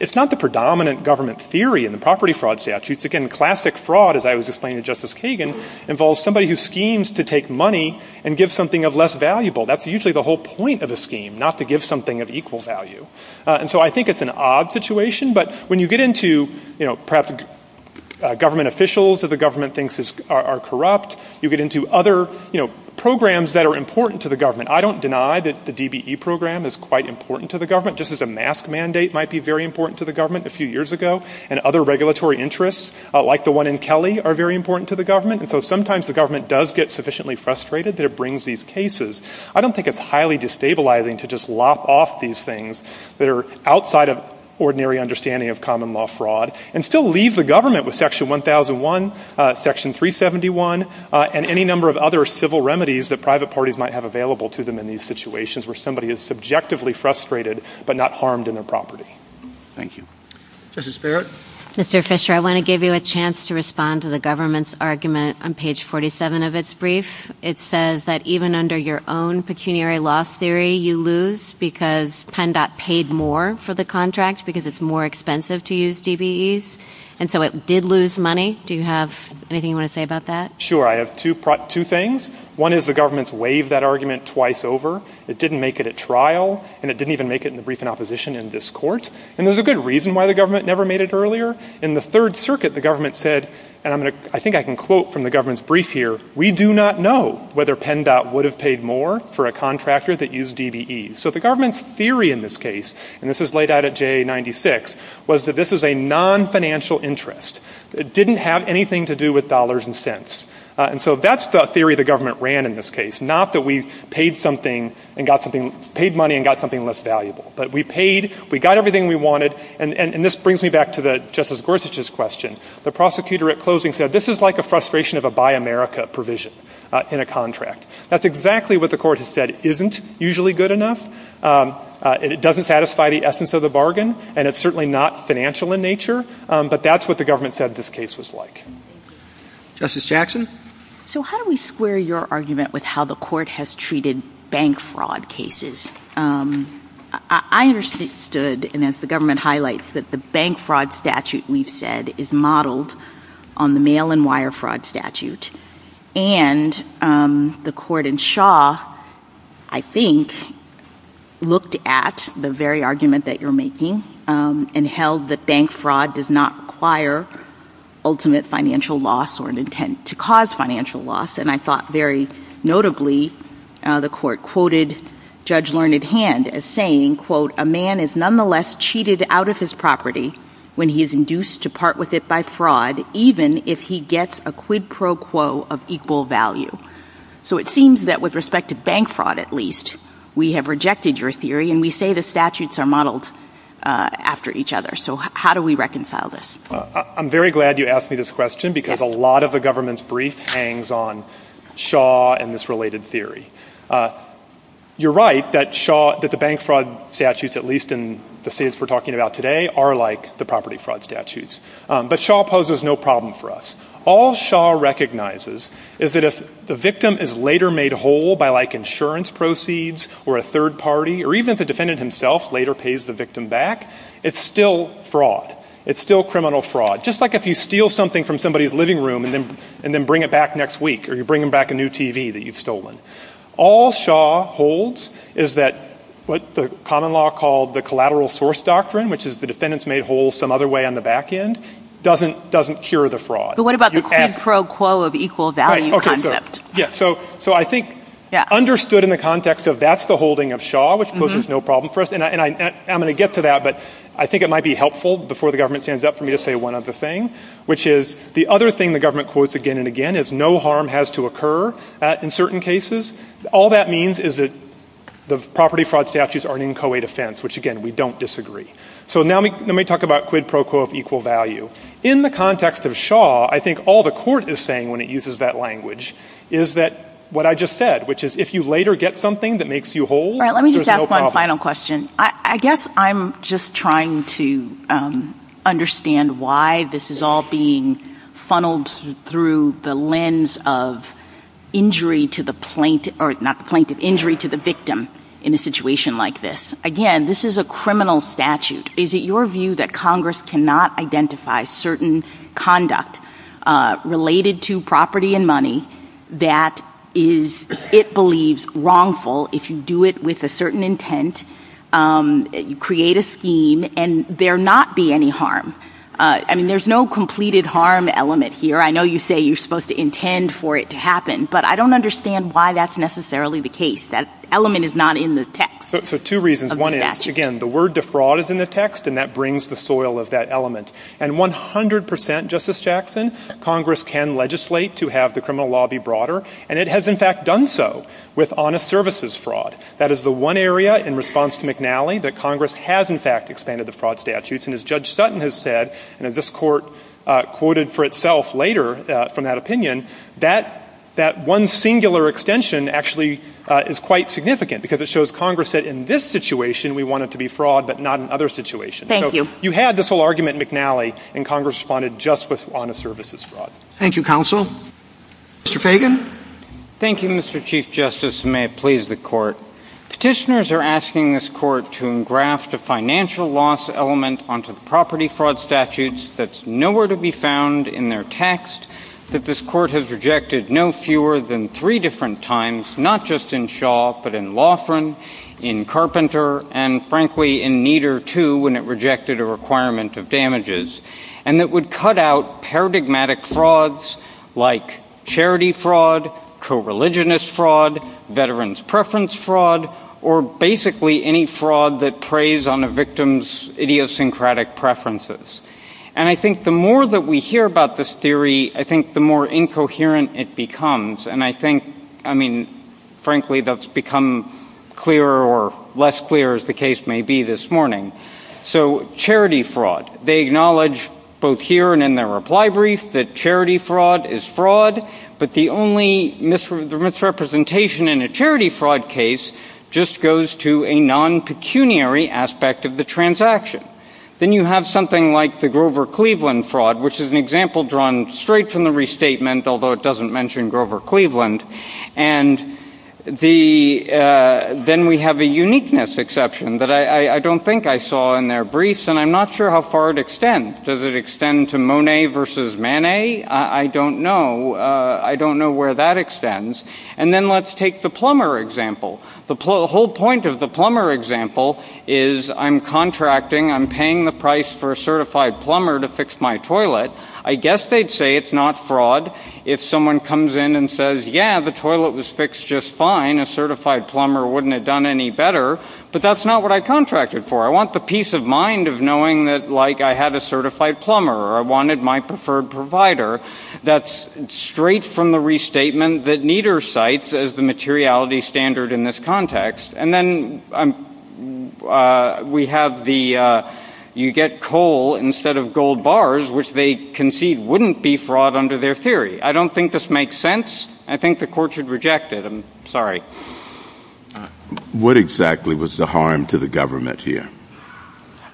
It's not the predominant government theory in the property fraud statutes. Again, classic fraud, as I was explaining to Justice Kagan, involves somebody who schemes to take money and give something of less value. That's usually the whole point of a scheme, not to give something of equal value. And so I think it's an odd situation, but when you get into perhaps government officials that the government thinks are corrupt, you get into other programs that are important to the government. I don't deny that the DBE program is quite important to the government, just as a mask mandate might be very important to the government a few years ago, and other regulatory interests like the one in Kelly are very important to the government, and so sometimes the government does get sufficiently frustrated that it brings these cases. I don't think it's highly destabilizing to just lop off these things that are outside of ordinary understanding of common law fraud and still leave the government with Section 1001, Section 371, and any number of other civil remedies that private parties might have available to them in these situations where somebody is subjectively frustrated but not harmed in their property. Thank you. Justice Barrett? Mr. Fisher, I want to give you a chance to respond to the government's argument on page 47 of its brief. It says that even under your own pecuniary law theory, you lose because PennDOT paid more for the contract because it's more expensive to use DBEs, and so it did lose money. Do you have anything you want to say about that? Sure. I have two things. One is the government's waived that argument twice over. It didn't make it at trial, and it didn't even make it in the briefing opposition in this court, and there's a good reason why the government never made it earlier. In the Third Circuit, the government said, and I think I can quote from the government's brief here, we do not know whether PennDOT would have paid more for a contractor that used DBEs. So the government's theory in this case, and this is laid out at JA 96, was that this is a non-financial interest. It didn't have anything to do with dollars and cents. And so that's the theory the government ran in this case, not that we paid money and got something less valuable. But we paid, we got everything we wanted, and this brings me back to Justice Gorsuch's question. The prosecutor at closing said, this is like a frustration of a Buy America provision in a contract. That's exactly what the court has said isn't usually good enough. It doesn't satisfy the essence of the bargain, and it's certainly not financial in nature, but that's what the government said this case was like. Justice Jackson? So how do we square your argument with how the court has treated bank fraud cases? I understood, and as the government highlights, that the bank fraud statute we've said is modeled on the mail and wire fraud statute. And the court in Shaw, I think, looked at the very argument that you're making and held that bank fraud does not require ultimate financial loss or an intent to cause financial loss. And I thought very notably the court quoted Judge Learned Hand as saying, quote, a man is nonetheless cheated out of his property when he is induced to part with it by fraud, even if he gets a quid pro quo of equal value. So it seems that with respect to bank fraud, at least, we have rejected your theory, and we say the statutes are modeled after each other. So how do we reconcile this? I'm very glad you asked me this question because a lot of the government's brief hangs on Shaw and this related theory. You're right that the bank fraud statutes, at least in the states we're talking about today, are like the property fraud statutes. But Shaw poses no problem for us. All Shaw recognizes is that if the victim is later made whole by, like, insurance proceeds or a third party, or even if the defendant himself later pays the victim back, it's still fraud. It's still criminal fraud. Just like if you steal something from somebody's living room and then bring it back next week or you bring them back a new TV that you've stolen. All Shaw holds is that what the common law called the collateral source doctrine, which is the defendant's made whole some other way on the back end, doesn't cure the fraud. But what about the quid pro quo of equal value concept? Yeah, so I think understood in the context of that's the holding of Shaw, which poses no problem for us, and I'm going to get to that, but I think it might be helpful before the government stands up for me to say one other thing, which is the other thing the government quotes again and again is no harm has to occur in certain cases. All that means is that the property fraud statutes are an inchoate offense, which, again, we don't disagree. So now let me talk about quid pro quo of equal value. In the context of Shaw, I think all the court is saying when it uses that language is that what I just said, which is if you later get something that makes you whole, there's no problem. One final question. I guess I'm just trying to understand why this is all being funneled through the lens of injury to the plaintiff or not the plaintiff, injury to the victim in a situation like this. Again, this is a criminal statute. Is it your view that Congress cannot identify certain conduct related to property and money that it believes wrongful if you do it with a certain intent, create a scheme, and there not be any harm? I mean, there's no completed harm element here. I know you say you're supposed to intend for it to happen, but I don't understand why that's necessarily the case. That element is not in the text. So two reasons. One is, again, the word defraud is in the text, and that brings the soil of that element. And 100%, Justice Jackson, Congress can legislate to have the criminal law be broader, and it has in fact done so with honest services fraud. That is the one area in response to McNally that Congress has in fact extended the fraud statutes, and as Judge Sutton has said, and this court quoted for itself later from that opinion, that one singular extension actually is quite significant because it shows Congress that in this situation, we want it to be fraud but not in other situations. Thank you. So you had this whole argument, McNally, and Congress responded just with honest services fraud. Thank you, Counsel. Mr. Fagan. Thank you, Mr. Chief Justice, and may it please the Court. Petitioners are asking this Court to engraft a financial loss element onto the property fraud statutes that's nowhere to be found in their text, that this Court has rejected no fewer than three different times, not just in Shaw but in Laughran, in Carpenter, and frankly in Nieder too when it rejected a requirement of damages, and that would cut out paradigmatic frauds like charity fraud, co-religionist fraud, veterans' preference fraud, or basically any fraud that preys on a victim's idiosyncratic preferences. And I think the more that we hear about this theory, I think the more incoherent it becomes, and I think, I mean, frankly that's become clearer or less clear as the case may be this morning. So charity fraud. They acknowledge both here and in their reply brief that charity fraud is fraud, but the only misrepresentation in a charity fraud case just goes to a non-pecuniary aspect of the transaction. Then you have something like the Grover Cleveland fraud, which is an example drawn straight from the restatement, although it doesn't mention Grover Cleveland. And then we have a uniqueness exception that I don't think I saw in their briefs, and I'm not sure how far it extends. Does it extend to Monet versus Manet? I don't know. I don't know where that extends. And then let's take the plumber example. The whole point of the plumber example is I'm contracting, I'm paying the price for a certified plumber to fix my toilet. I guess they'd say it's not fraud if someone comes in and says, yeah, the toilet was fixed just fine, a certified plumber wouldn't have done any better, but that's not what I contracted for. I want the peace of mind of knowing that, like, I had a certified plumber or I wanted my preferred provider. That's straight from the restatement that Nieder cites as the materiality standard in this context. And then we have the you get coal instead of gold bars, which they concede wouldn't be fraud under their theory. I don't think this makes sense. I think the court should reject it. I'm sorry. What exactly was the harm to the government here?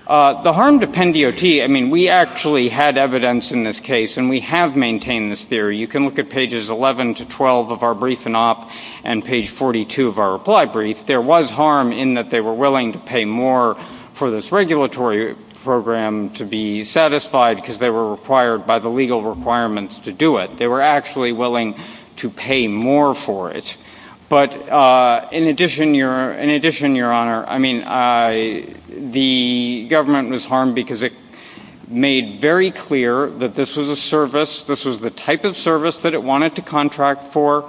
The harm to Pendiote, I mean, we actually had evidence in this case and we have maintained this theory. You can look at pages 11 to 12 of our brief and op and page 42 of our reply brief. There was harm in that they were willing to pay more for this regulatory program to be satisfied because they were required by the legal requirements to do it. They were actually willing to pay more for it. But in addition, your in addition, your honor, I mean, the government was harmed because it made very clear that this was a service. This was the type of service that it wanted to contract for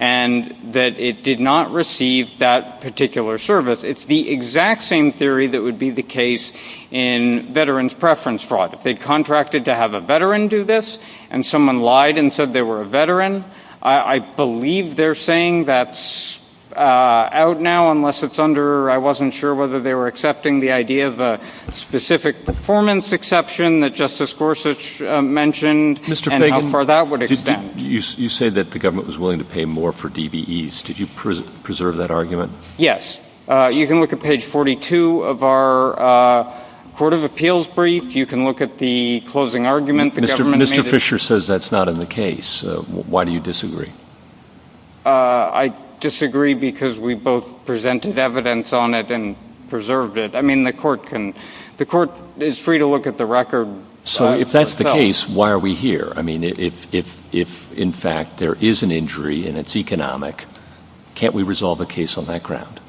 and that it did not receive that particular service. It's the exact same theory that would be the case in veterans preference fraud. They contracted to have a veteran do this and someone lied and said they were a veteran. I believe they're saying that's out now unless it's under. I wasn't sure whether they were accepting the idea of a specific performance exception that Justice Gorsuch mentioned. You say that the government was willing to pay more for DVS. Did you preserve that argument? You can look at page 42 of our Court of Appeals brief. You can look at the closing argument. Mr. Mr. Fisher says that's not in the case. Why do you disagree? I disagree because we both presented evidence on it and preserved it. I mean, the court can the court is free to look at the record. So if that's the case, why are we here? I mean, if if if in fact there is an injury and it's economic, can't we resolve a case on that ground?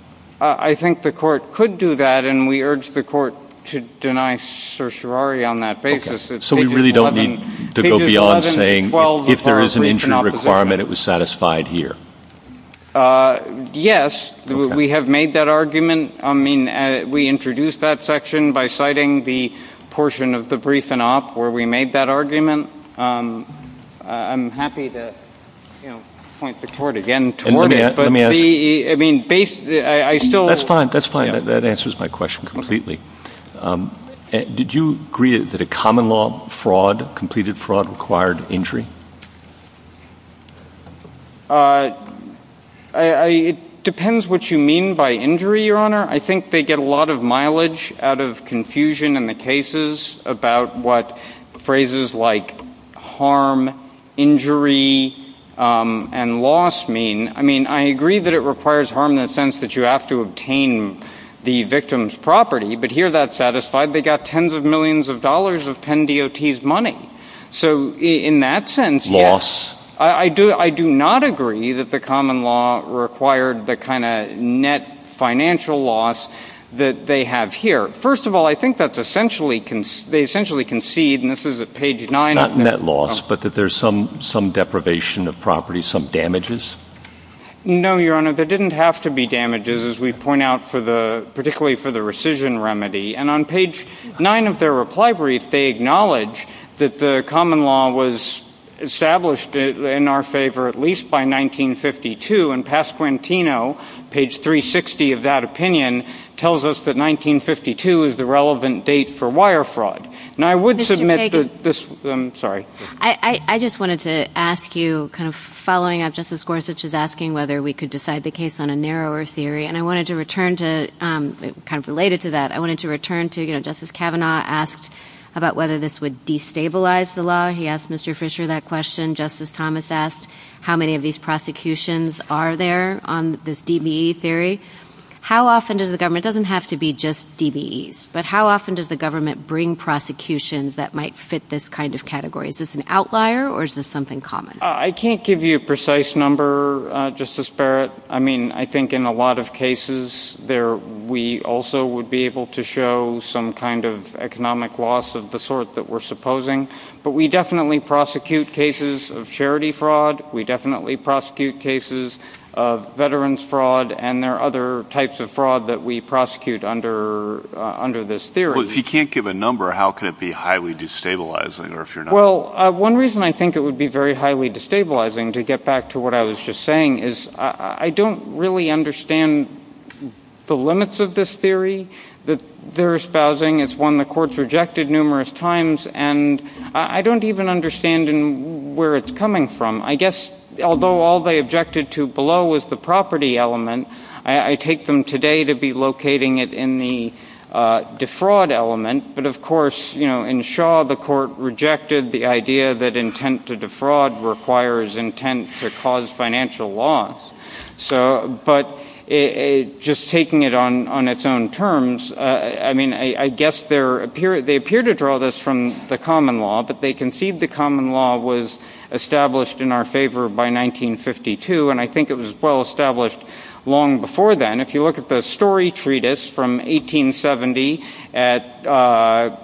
I think the court could do that. And we urge the court to deny certiorari on that basis. So we really don't need to go beyond saying, well, if there is an injury requirement, it was satisfied here. Yes, we have made that argument. I mean, we introduced that section by citing the portion of the brief and off where we made that argument. I'm happy to point the court again. I mean, I still that's fine. That's fine. That answers my question completely. Did you agree that a common law fraud completed fraud required injury? It depends what you mean by injury, Your Honor. I think they get a lot of mileage out of confusion in the cases about what phrases like harm, injury and loss mean. I mean, I agree that it requires harm in the sense that you have to obtain the victim's property. But here that's satisfied. They got tens of millions of dollars of Penn DOT's money. So in that sense, yes. I do not agree that the common law required the kind of net financial loss that they have here. First of all, I think that's essentially they essentially concede, and this is at page 9. Not net loss, but that there's some deprivation of property, some damages? No, Your Honor. There didn't have to be damages, as we point out, particularly for the rescission remedy. And on page 9 of their reply brief, they acknowledge that the common law was established in our favor at least by 1952. And Pasquantino, page 360 of that opinion, tells us that 1952 is the relevant date for wire fraud. Mr. Fagan. I'm sorry. I just wanted to ask you, kind of following up Justice Gorsuch's asking whether we could decide the case on a narrower theory. And I wanted to return to, kind of related to that, I wanted to return to, you know, Justice Kavanaugh asked about whether this would destabilize the law. He asked Mr. Fisher that question. Justice Thomas asked how many of these prosecutions are there on this DBE theory. How often does the government, it doesn't have to be just DBEs, but how often does the government bring prosecutions that might fit this kind of category? Is this an outlier or is this something common? I can't give you a precise number, Justice Barrett. I mean, I think in a lot of cases, we also would be able to show some kind of economic loss of the sort that we're supposing. But we definitely prosecute cases of charity fraud. We definitely prosecute cases of veterans fraud. And there are other types of fraud that we prosecute under this theory. Well, if you can't give a number, how can it be highly destabilizing? Well, one reason I think it would be very highly destabilizing, to get back to what I was just saying, is I don't really understand the limits of this theory that they're espousing. It's one the courts rejected numerous times. And I don't even understand where it's coming from. I guess, although all they objected to below was the property element, I take them today to be locating it in the defraud element. But, of course, in Shaw, the court rejected the idea that intent to defraud requires intent to cause financial loss. But just taking it on its own terms, I mean, I guess they appear to draw this from the common law. But they concede the common law was established in our favor by 1952. And I think it was well established long before then. And if you look at the Story Treatise from 1870, at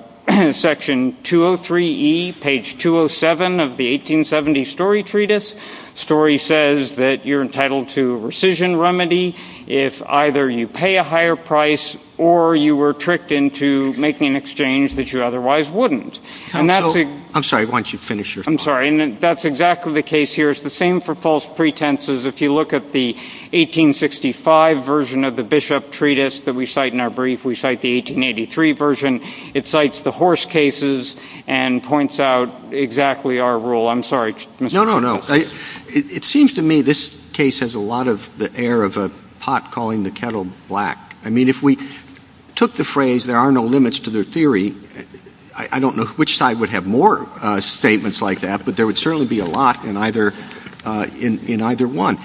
section 203E, page 207 of the 1870 Story Treatise, Story says that you're entitled to a rescission remedy if either you pay a higher price or you were tricked into making an exchange that you otherwise wouldn't. I'm sorry, why don't you finish your thought. I'm sorry. And that's exactly the case here. It's the same for false pretenses. If you look at the 1865 version of the Bishop Treatise that we cite in our brief, we cite the 1883 version. It cites the horse cases and points out exactly our role. I'm sorry. No, no, no. It seems to me this case has a lot of the air of a pot calling the kettle black. I mean, if we took the phrase, there are no limits to the theory, I don't know which side would have more statements like that. But there would certainly be a lot in either one.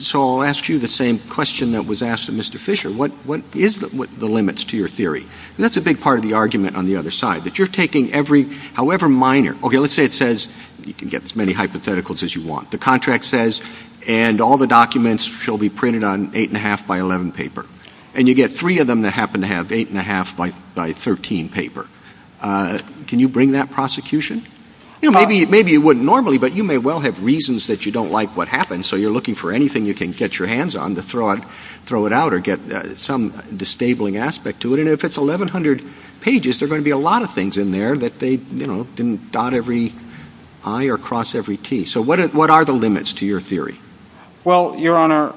So I'll ask you the same question that was asked of Mr. Fisher. What is the limits to your theory? And that's a big part of the argument on the other side, that you're taking every, however minor. Okay, let's say it says, you can get as many hypotheticals as you want. The contract says, and all the documents shall be printed on 8 1⁄2 by 11 paper. And you get three of them that happen to have 8 1⁄2 by 13 paper. Can you bring that prosecution? Maybe you wouldn't normally, but you may well have reasons that you don't like what happens. So you're looking for anything you can get your hands on to throw it out or get some disabling aspect to it. And if it's 1,100 pages, there are going to be a lot of things in there that they didn't dot every I or cross every T. So what are the limits to your theory? Well, Your Honor,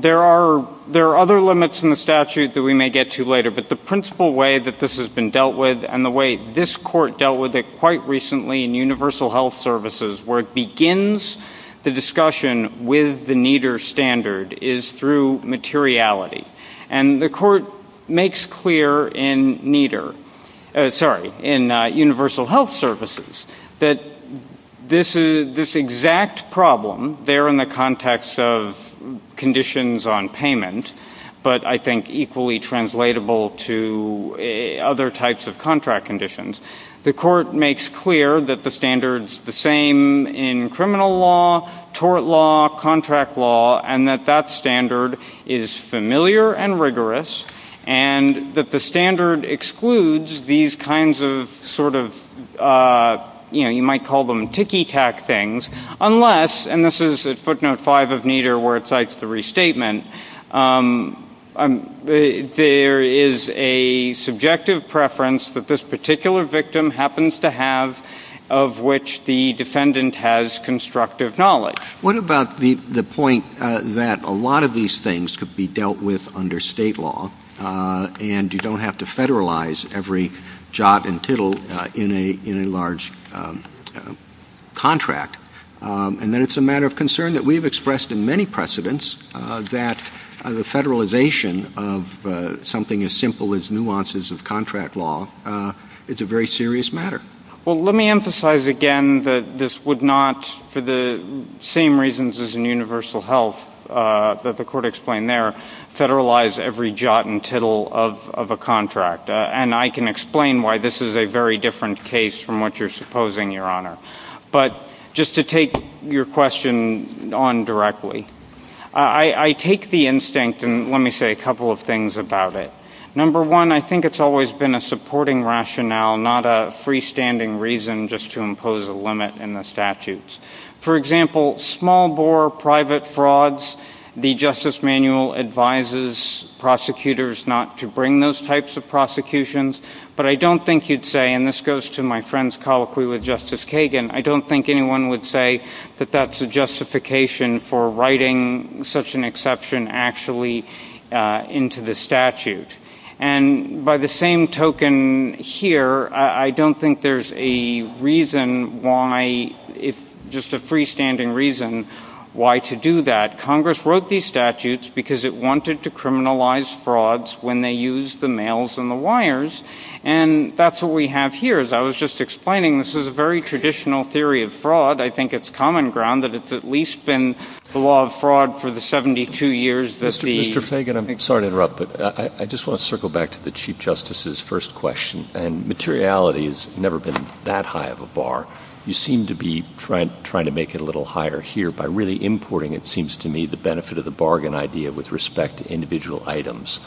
there are other limits in the statute that we may get to later. But the principal way that this has been dealt with, and the way this court dealt with it quite recently in Universal Health Services, where it begins the discussion with the NEDHR standard, is through materiality. And the court makes clear in NEDHR, sorry, in Universal Health Services, that this exact problem, there in the context of conditions on payment, but I think equally translatable to other types of contract conditions. The court makes clear that the standard's the same in criminal law, tort law, contract law, and that that standard is familiar and rigorous, and that the standard excludes these kinds of sort of, you know, you might call them ticky-tack things, unless, and this is footnote 5 of NEDHR where it cites the restatement, there is a subjective preference that this particular victim happens to have, of which the defendant has constructive knowledge. What about the point that a lot of these things could be dealt with under state law, and you don't have to federalize every jot and tittle in a large contract, and that it's a matter of concern that we've expressed in many precedents that the federalization of something as simple as nuances of contract law is a very serious matter? Well, let me emphasize again that this would not, for the same reasons as in universal health that the court explained there, federalize every jot and tittle of a contract. And I can explain why this is a very different case from what you're supposing, Your Honor. But just to take your question on directly, I take the instinct, and let me say a couple of things about it. Number one, I think it's always been a supporting rationale, not a freestanding reason just to impose a limit in the statutes. For example, small-bore private frauds, the Justice Manual advises prosecutors not to bring those types of prosecutions, but I don't think you'd say, and this goes to my friend's colloquy with Justice Kagan, I don't think anyone would say that that's a justification for writing such an exception actually into the statute. And by the same token here, I don't think there's a reason why, just a freestanding reason why to do that. Congress wrote these statutes because it wanted to criminalize frauds when they used the mails and the wires, and that's what we have here. As I was just explaining, this is a very traditional theory of fraud. I think it's common ground that it's at least been the law of fraud for the 72 years that the — Mr. Fagan, I'm sorry to interrupt, but I just want to circle back to the Chief Justice's first question, and materiality has never been that high of a bar. You seem to be trying to make it a little higher here by really importing, it seems to me, the benefit of the bargain idea with respect to individual items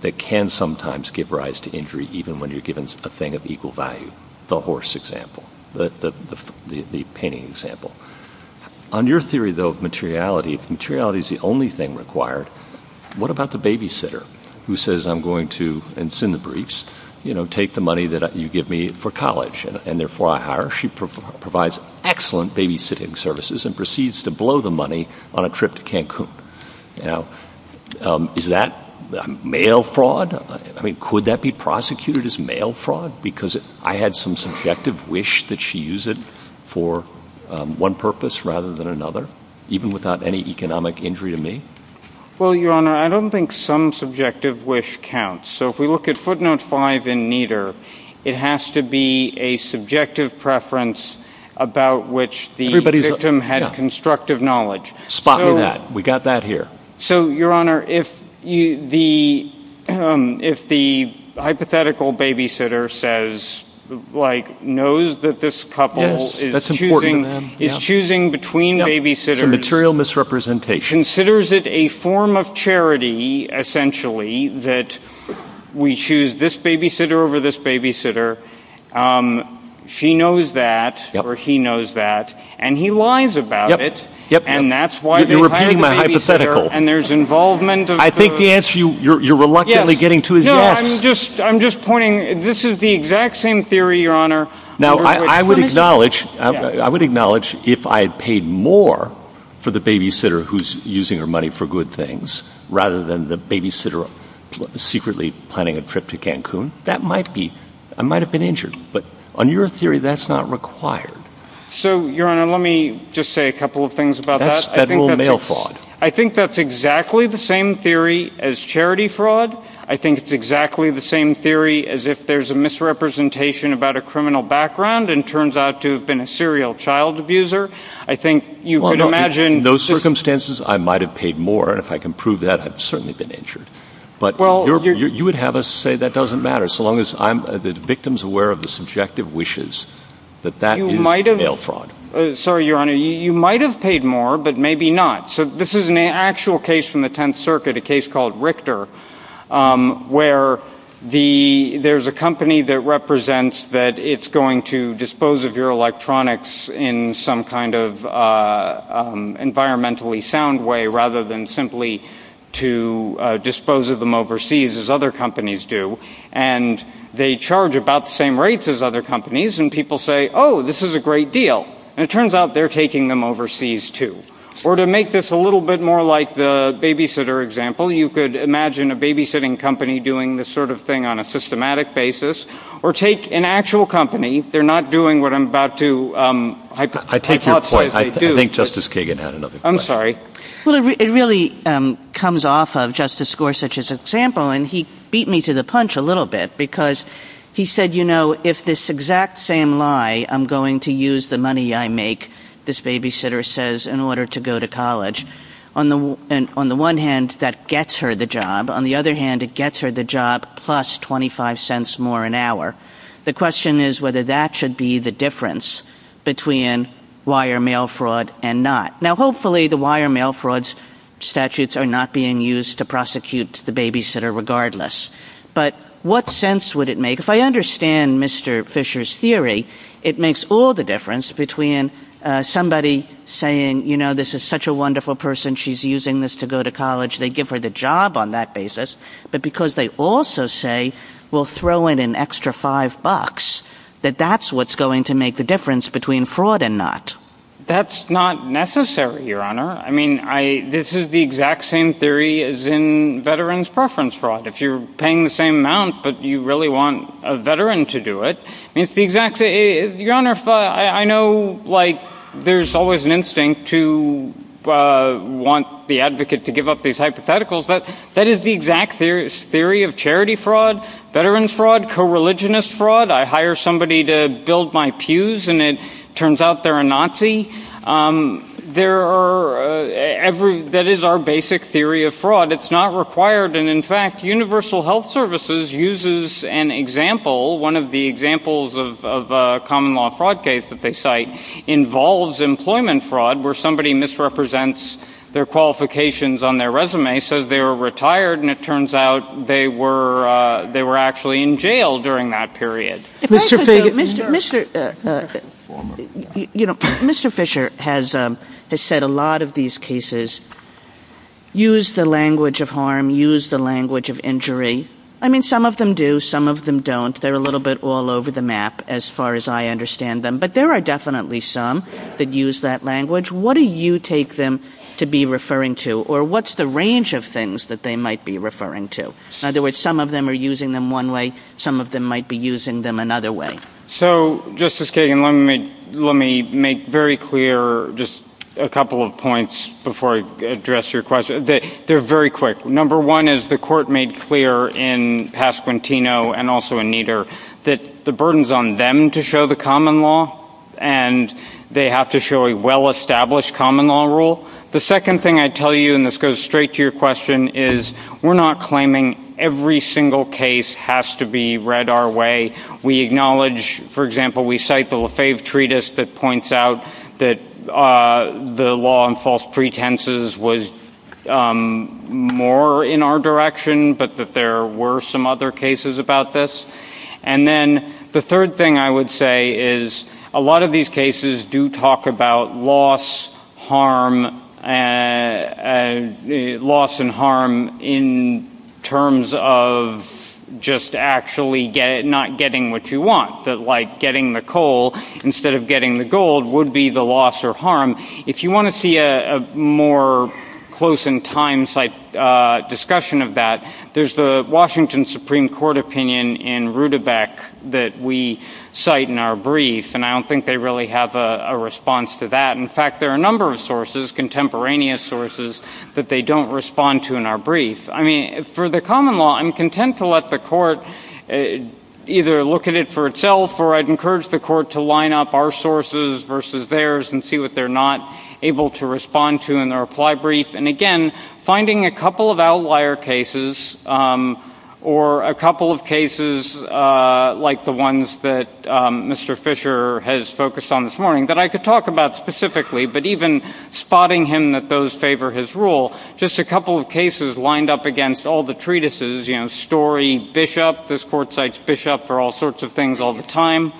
that can sometimes give rise to injury, even when you're given a thing of equal value, the horse example, the painting example. On your theory, though, of materiality, if materiality is the only thing required, what about the babysitter who says, I'm going to, and it's in the briefs, take the money that you give me for college, and therefore I hire her. She provides excellent babysitting services and proceeds to blow the money on a trip to Cancun. Is that mail fraud? I mean, could that be prosecuted as mail fraud because I had some subjective wish that she use it for one purpose rather than another, even without any economic injury to me? Well, Your Honor, I don't think some subjective wish counts. So if we look at footnote 5 in Nieder, it has to be a subjective preference about which the victim had constructive knowledge. Spot on that. We got that here. So, Your Honor, if the hypothetical babysitter says, like, knows that this couple is choosing between babysitters, Material misrepresentation. considers it a form of charity, essentially, that we choose this babysitter over this babysitter. She knows that or he knows that, and he lies about it. And that's why they're planning the babysitter. And there's involvement of those. I think the answer you're reluctantly getting to is yes. No, I'm just pointing, this is the exact same theory, Your Honor. Now, I would acknowledge, I would acknowledge if I had paid more for the babysitter who's using her money for good things, rather than the babysitter secretly planning a trip to Cancun, that might be, I might have been injured. But on your theory, that's not required. So, Your Honor, let me just say a couple of things about that. That's federal mail fraud. I think that's exactly the same theory as charity fraud. I think it's exactly the same theory as if there's a misrepresentation about a criminal background and turns out to have been a serial child abuser. I think you could imagine... Well, in those circumstances, I might have paid more. And if I can prove that, I've certainly been injured. But you would have us say that doesn't matter, so long as the victim's aware of the subjective wishes that that is mail fraud. Sorry, Your Honor. You might have paid more, but maybe not. So this is an actual case from the Tenth Circuit, a case called Richter, where there's a company that represents that it's going to dispose of your electronics in some kind of environmentally sound way, rather than simply to dispose of them overseas, as other companies do. And they charge about the same rates as other companies. And people say, oh, this is a great deal. And it turns out they're taking them overseas, too. Or to make this a little bit more like the babysitter example, you could imagine a babysitting company doing this sort of thing on a systematic basis. Or take an actual company. They're not doing what I'm about to hypothesize they do. I take your point. I think Justice Kagan had another point. I'm sorry. Well, it really comes off of Justice Gorsuch's example. And he beat me to the punch a little bit. Because he said, you know, if this exact same lie, I'm going to use the money I make, this babysitter says, in order to go to college, on the one hand, that gets her the job. On the other hand, it gets her the job plus 25 cents more an hour. The question is whether that should be the difference between wire mail fraud and not. Now, hopefully the wire mail fraud statutes are not being used to prosecute the babysitter regardless. But what sense would it make? If I understand Mr. Fisher's theory, it makes all the difference between somebody saying, you know, this is such a wonderful person. She's using this to go to college. They give her the job on that basis. But because they also say we'll throw in an extra five bucks, that that's what's going to make the difference between fraud and not. That's not necessary, Your Honor. I mean, this is the exact same theory as in veterans preference fraud. If you're paying the same amount but you really want a veteran to do it, it's the exact same. Your Honor, I know, like, there's always an instinct to want the advocate to give up these hypotheticals. But that is the exact theory of charity fraud, veterans fraud, co-religionist fraud. I hire somebody to build my pews and it turns out they're a Nazi. There are every, that is our basic theory of fraud. But it's not required. And, in fact, Universal Health Services uses an example, one of the examples of a common law fraud case that they cite, involves employment fraud where somebody misrepresents their qualifications on their resume, says they were retired, and it turns out they were actually in jail during that period. Mr. Fisher has said a lot of these cases use the language of harm, use the language of injury. I mean, some of them do, some of them don't. They're a little bit all over the map as far as I understand them. But there are definitely some that use that language. What do you take them to be referring to? Or what's the range of things that they might be referring to? In other words, some of them are using them one way. Some of them might be using them another way. So, Justice Kagan, let me make very clear just a couple of points before I address your question. They're very quick. Number one is the court made clear in Pasquantino and also in Nieder that the burden's on them to show the common law, and they have to show a well-established common law rule. The second thing I'd tell you, and this goes straight to your question, is we're not claiming every single case has to be read our way. We acknowledge, for example, we cite the Lefebvre Treatise that points out that the law on false pretenses was more in our direction, but that there were some other cases about this. And then the third thing I would say is a lot of these cases do talk about loss and harm in terms of just actually not getting what you want, like getting the coal instead of getting the gold would be the loss or harm. If you want to see a more close-in-time-type discussion of that, there's the Washington Supreme Court opinion in Rudebeck that we cite in our brief, and I don't think they really have a response to that. In fact, there are a number of sources, contemporaneous sources, that they don't respond to in our brief. I mean, for the common law, I'm content to let the court either look at it for itself, or I'd encourage the court to line up our sources versus theirs and see what they're not able to respond to in their reply brief. And, again, finding a couple of outlier cases or a couple of cases like the ones that Mr. Fisher has focused on this morning, that I could talk about specifically, but even spotting him that those favor his rule, just a couple of cases lined up against all the treatises, you know, Story, Bishop. This court cites Bishop for all sorts of things all the time.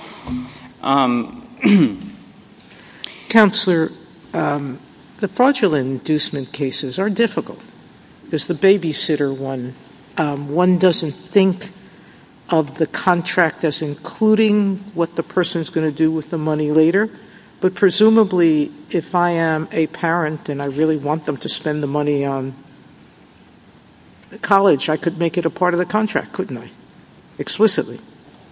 Counselor, the fraudulent inducement cases are difficult. There's the babysitter one. One doesn't think of the contract as including what the person's going to do with the money later, but presumably if I am a parent and I really want them to spend the money on college, I could make it a part of the contract, couldn't I, explicitly?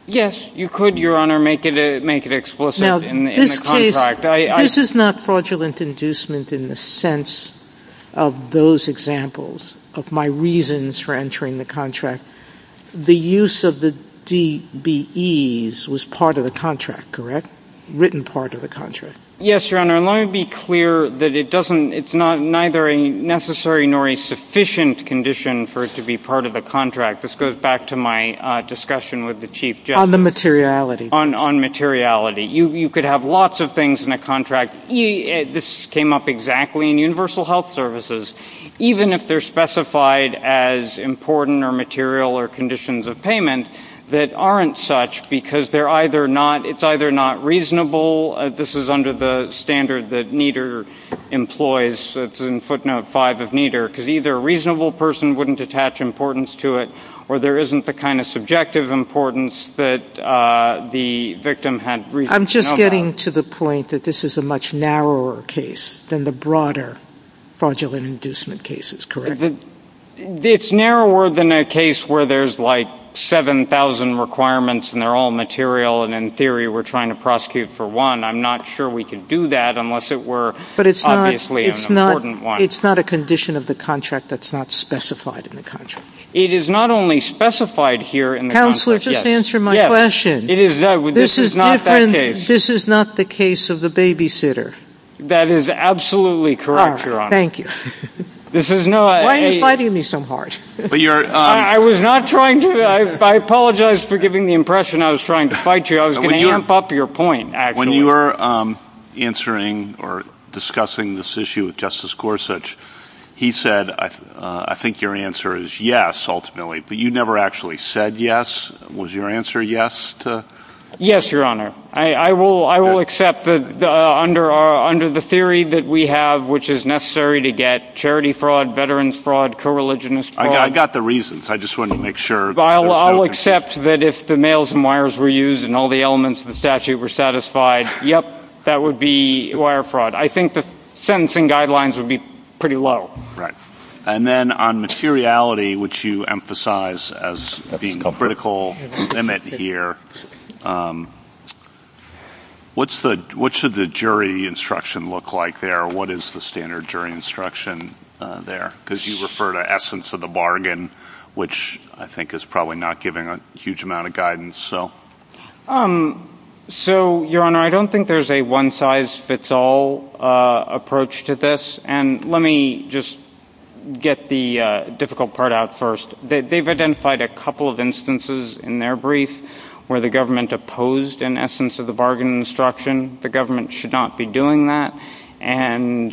Yes, you could, Your Honor, make it explicit in the contract. Now, this is not fraudulent inducement in the sense of those examples of my reasons for entering the contract. The use of the DBEs was part of the contract, correct? Written part of the contract. Yes, Your Honor, and let me be clear that it's neither a necessary nor a sufficient condition for it to be part of the contract. This goes back to my discussion with the Chief Justice. On the materiality. On materiality. You could have lots of things in a contract. This came up exactly in universal health services. Even if they're specified as important or material or conditions of payment that aren't such because they're either not, it's either not reasonable, this is under the standard that NEDR employs, it's in footnote five of NEDR, because either a reasonable person wouldn't attach importance to it or there isn't the kind of subjective importance that the victim had reason to know about. You're getting to the point that this is a much narrower case than the broader fraudulent inducement cases, correct? It's narrower than a case where there's like 7,000 requirements and they're all material and in theory we're trying to prosecute for one. I'm not sure we can do that unless it were obviously an important one. But it's not a condition of the contract that's not specified in the contract. It is not only specified here in the contract. Counselor, just answer my question. This is not the case of the babysitter. That is absolutely correct, Your Honor. Thank you. Why are you fighting me so hard? I apologize for giving the impression I was trying to fight you. I was going to amp up your point. When you were answering or discussing this issue with Justice Gorsuch, he said, I think your answer is yes, ultimately, but you never actually said yes. Was your answer yes? Yes, Your Honor. I will accept that under the theory that we have, which is necessary to get charity fraud, veterans fraud, co-religionist fraud. I got the reasons. I just wanted to make sure. I'll accept that if the mails and wires were used and all the elements of the statute were satisfied, yep, that would be wire fraud. I think the sentencing guidelines would be pretty low. And then on materiality, which you emphasize as being the critical limit here, what should the jury instruction look like there? What is the standard jury instruction there? Because you refer to essence of the bargain, which I think is probably not giving a huge amount of guidance. So, Your Honor, I don't think there's a one-size-fits-all approach to this. And let me just get the difficult part out first. They've identified a couple of instances in their brief where the government opposed an essence of the bargain instruction. The government should not be doing that. And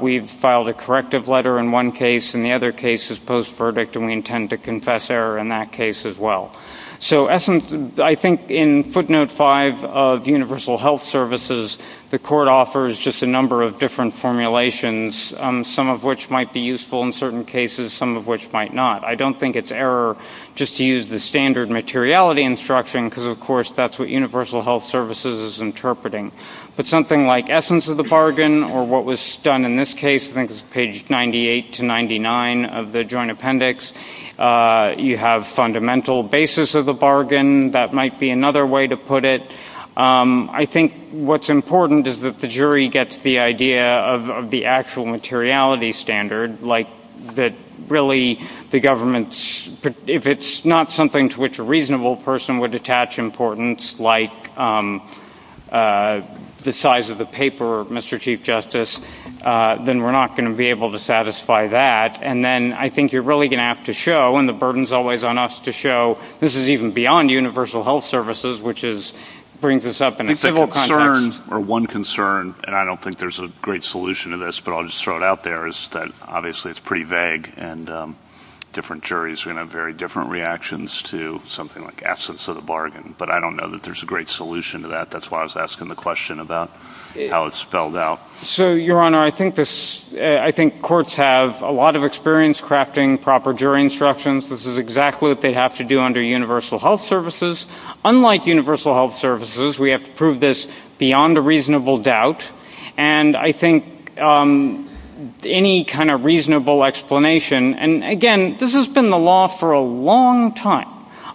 we've filed a corrective letter in one case, and the other case is post-verdict, and we intend to confess error in that case as well. So essence, I think in footnote 5 of universal health services, the court offers just a number of different formulations, some of which might be useful in certain cases, some of which might not. I don't think it's error just to use the standard materiality instruction because, of course, that's what universal health services is interpreting. But something like essence of the bargain or what was done in this case, I think it's page 98 to 99 of the joint appendix, you have fundamental basis of the bargain, that might be another way to put it. I think what's important is that the jury gets the idea of the actual materiality standard, like that really the government's, if it's not something to which a reasonable person would attach importance, like the size of the paper, Mr. Chief Justice, then we're not going to be able to satisfy that. And then I think you're really going to have to show, and the burden's always on us to show, this is even beyond universal health services, which brings us up in a civil context. It's a concern, or one concern, and I don't think there's a great solution to this, but I'll just throw it out there, is that obviously it's pretty vague, and different juries are going to have very different reactions to something like essence of the bargain. But I don't know that there's a great solution to that. That's why I was asking the question about how it's spelled out. So, Your Honor, I think courts have a lot of experience crafting proper jury instructions. This is exactly what they have to do under universal health services. Unlike universal health services, we have to prove this beyond a reasonable doubt, and I think any kind of reasonable explanation, and again, this has been the law for a long time,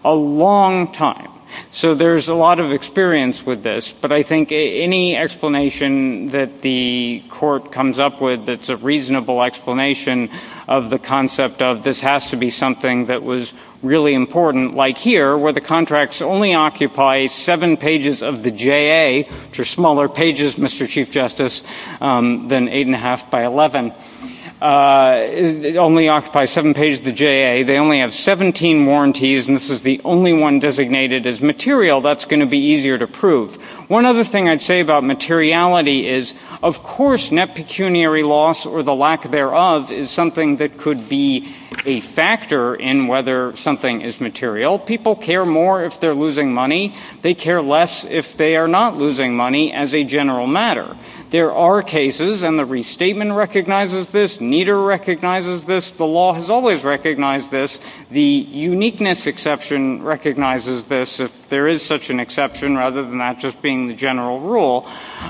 a long time. So there's a lot of experience with this, but I think any explanation that the court comes up with that's a reasonable explanation of the concept of this has to be something that was really important, like here, where the contracts only occupy seven pages of the JA, which are smaller pages, Mr. Chief Justice, than 8 1⁄2 by 11, only occupy seven pages of the JA. They only have 17 warranties, and this is the only one designated as material that's going to be easier to prove. One other thing I'd say about materiality is, of course, net pecuniary loss or the lack thereof is something that could be a factor in whether something is material. People care more if they're losing money. They care less if they are not losing money as a general matter. There are cases, and the restatement recognizes this, NIDA recognizes this, the law has always recognized this, the uniqueness exception recognizes this, if there is such an exception, rather than that just being the general rule,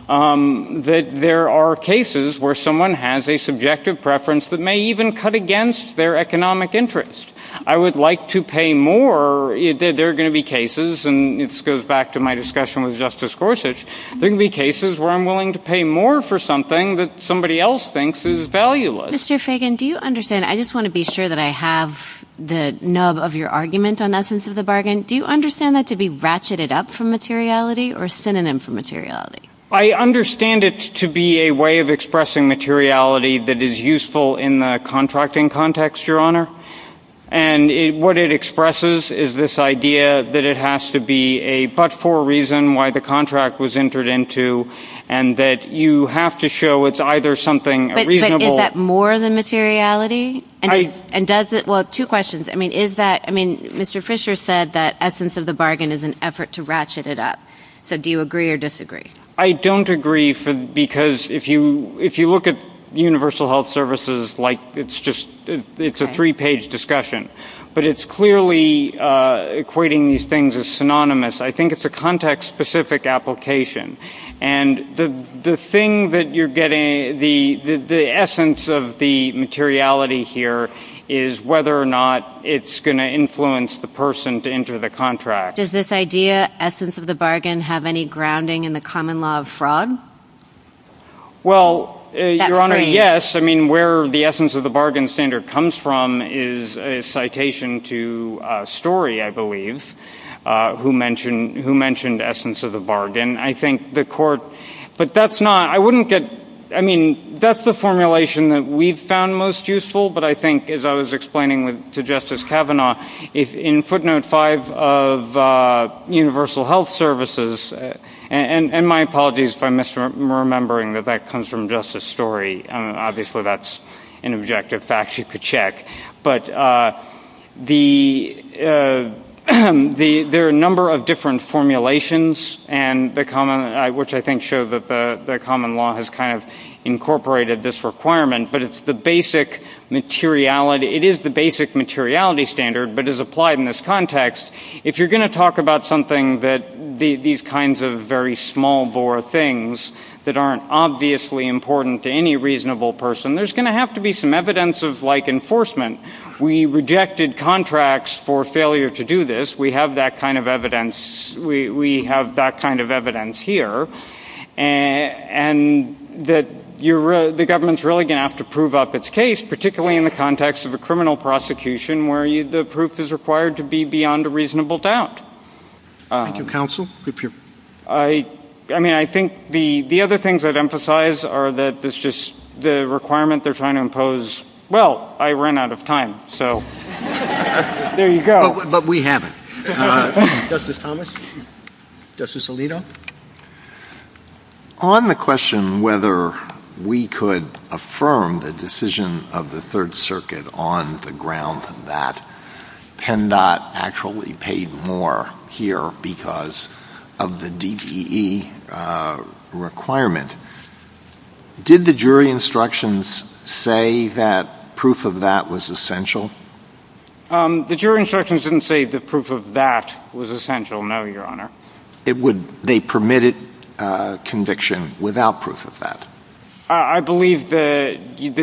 that there are cases where someone has a subjective preference that may even cut against their economic interest. I would like to pay more. There are going to be cases, and this goes back to my discussion with Justice Gorsuch, there are going to be cases where I'm willing to pay more for something that somebody else thinks is valueless. Mr. Fagan, do you understand, I just want to be sure that I have the nub of your argument on essence of the bargain, do you understand that to be ratcheted up for materiality or synonym for materiality? I understand it to be a way of expressing materiality that is useful in the contracting context, Your Honor, and what it expresses is this idea that it has to be a but-for reason why the contract was entered into, and that you have to show it's either something reasonable... But is that more than materiality, and does it, well, two questions, I mean, is that, I mean, Mr. Fisher said that essence of the bargain is an effort to ratchet it up, so do you agree or disagree? I don't agree, because if you look at Universal Health Services, like, it's just, it's a three-page discussion, but it's clearly equating these things as synonymous. I think it's a context-specific application, and the thing that you're getting, the essence of the materiality here is whether or not it's going to influence the person to enter the contract. Does this idea, essence of the bargain, have any grounding in the common law of fraud? Well, Your Honor, yes. I mean, where the essence of the bargain standard comes from is a citation to Story, I believe, who mentioned essence of the bargain. I think the court, but that's not, I wouldn't get, I mean, that's the formulation that we've found most useful, but I think, as I was explaining to Justice Kavanaugh, in footnote five of Universal Health Services, and my apologies if I'm misremembering that that comes from Justice Story, obviously that's an objective fact you could check, but there are a number of different formulations, which I think show that the common law has kind of incorporated this requirement, but it's the basic materiality, it is the basic materiality standard, but is applied in this context. If you're going to talk about something that, these kinds of very small-bore things that aren't obviously important to any reasonable person, there's going to have to be some evidence of, like, enforcement. We rejected contracts for failure to do this. We have that kind of evidence here, and that the government's really going to have to prove up its case, particularly in the context of a criminal prosecution where the proof is required to be beyond a reasonable doubt. I mean, I think the other things I'd emphasize are that this just, the requirement they're trying to impose, well, I ran out of time, so there you go. But we have it. Justice Thomas? Justice Alito? On the question whether we could affirm the decision of the Third Circuit on the ground that PennDOT actually paid more here because of the DTE requirement, did the jury instructions say that proof of that was essential? The jury instructions didn't say that proof of that was essential, no, Your Honor. They permitted conviction without proof of that? I believe the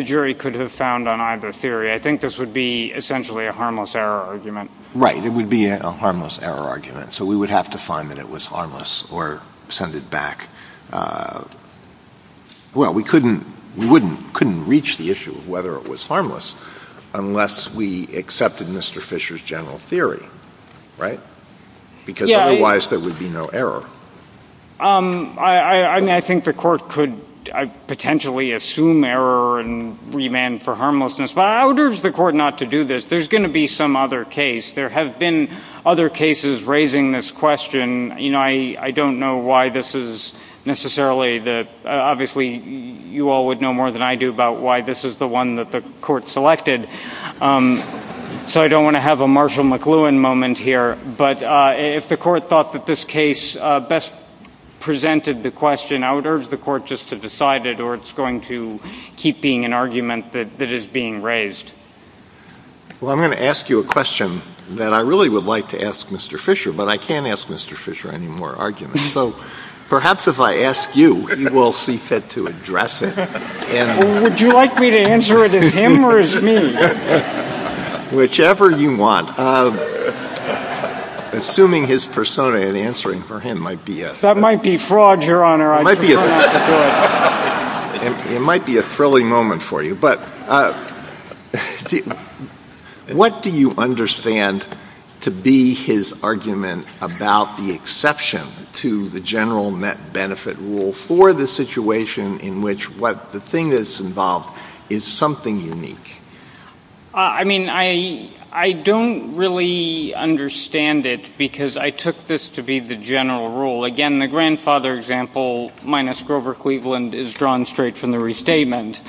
jury could have found on either theory. I think this would be essentially a harmless error argument. Right. It would be a harmless error argument, so we would have to find that it was harmless or send it back. Well, we couldn't reach the issue of whether it was harmless unless we accepted Mr. Fisher's general theory, right? Because otherwise there would be no error. I mean, I think the Court could potentially assume error and remand for harmlessness. But I would urge the Court not to do this. There's going to be some other case. There have been other cases raising this question. You know, I don't know why this is necessarily the – obviously you all would know more than I do about why this is the one that the Court selected. So I don't want to have a Marshall McLuhan moment here. But if the Court thought that this case best presented the question, I would urge the Court just to decide it or it's going to keep being an argument that is being raised. Well, I'm going to ask you a question that I really would like to ask Mr. Fisher, but I can't ask Mr. Fisher any more arguments. So perhaps if I ask you, he will cease it to address it. Would you like me to answer it as him or as me? Whichever you want. Assuming his persona and answering for him might be a – That might be fraud, Your Honor. I'm sure not good. It might be a frilly moment for you, but what do you understand to be his argument about the exception to the general net benefit rule for the situation in which the thing that's involved is something unique? I mean, I don't really understand it because I took this to be the general rule. Again, the grandfather example minus Grover Cleveland is drawn straight from the restatement.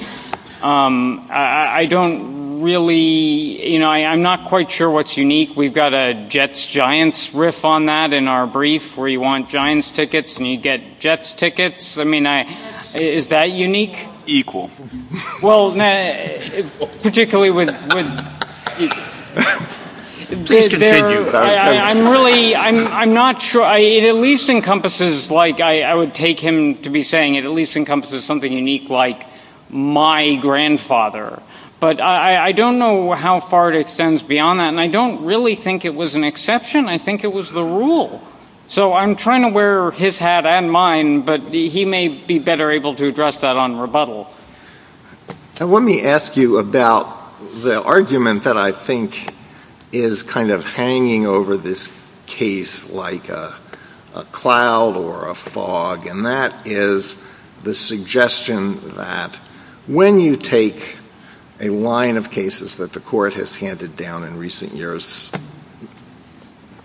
I don't really – I'm not quite sure what's unique. We've got a Jets-Giants riff on that in our brief where you want Giants tickets and you get Jets tickets. I mean, is that unique? Equal. Well, particularly with – I'm really – I'm not sure. It at least encompasses, like I would take him to be saying, it at least encompasses something unique like my grandfather. But I don't know how far it extends beyond that, and I don't really think it was an exception. I think it was the rule. So I'm trying to wear his hat and mine, but he may be better able to address that on rebuttal. Let me ask you about the argument that I think is kind of hanging over this case like a cloud or a fog, and that is the suggestion that when you take a line of cases that the court has handed down in recent years,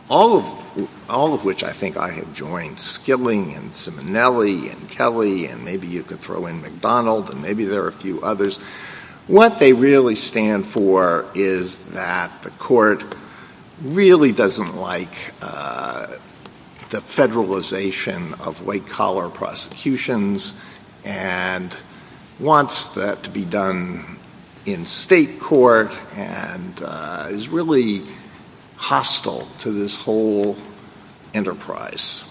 all of which I think I have joined, Skilling and Simonelli and Kelly and maybe you could throw in McDonald and maybe there are a few others, what they really stand for is that the court really doesn't like the federalization of white-collar prosecutions and wants that to be done in state court and is really hostile to this whole enterprise.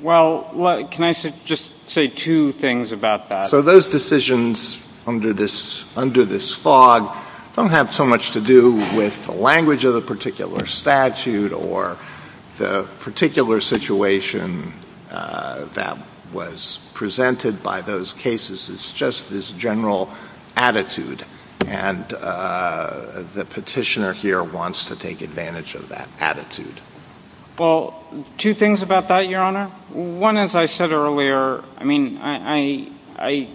Well, can I just say two things about that? So those decisions under this fog don't have so much to do with the language of the particular statute or the particular situation that was presented by those cases. It's just this general attitude, and the petitioner here wants to take advantage of that attitude. Well, two things about that, Your Honor. One, as I said earlier, I mean, I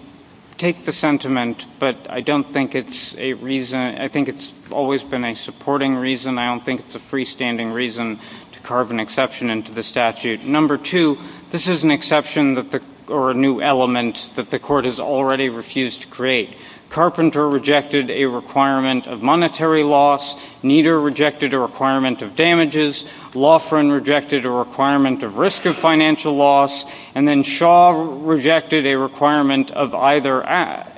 take the sentiment, but I don't think it's a reason. I think it's always been a supporting reason. I don't think it's a freestanding reason to carve an exception into the statute. Number two, this is an exception or a new element that the court has already refused to create. Carpenter rejected a requirement of monetary loss. Nieder rejected a requirement of damages. Lofgren rejected a requirement of risk of financial loss. And then Shaw rejected a requirement of either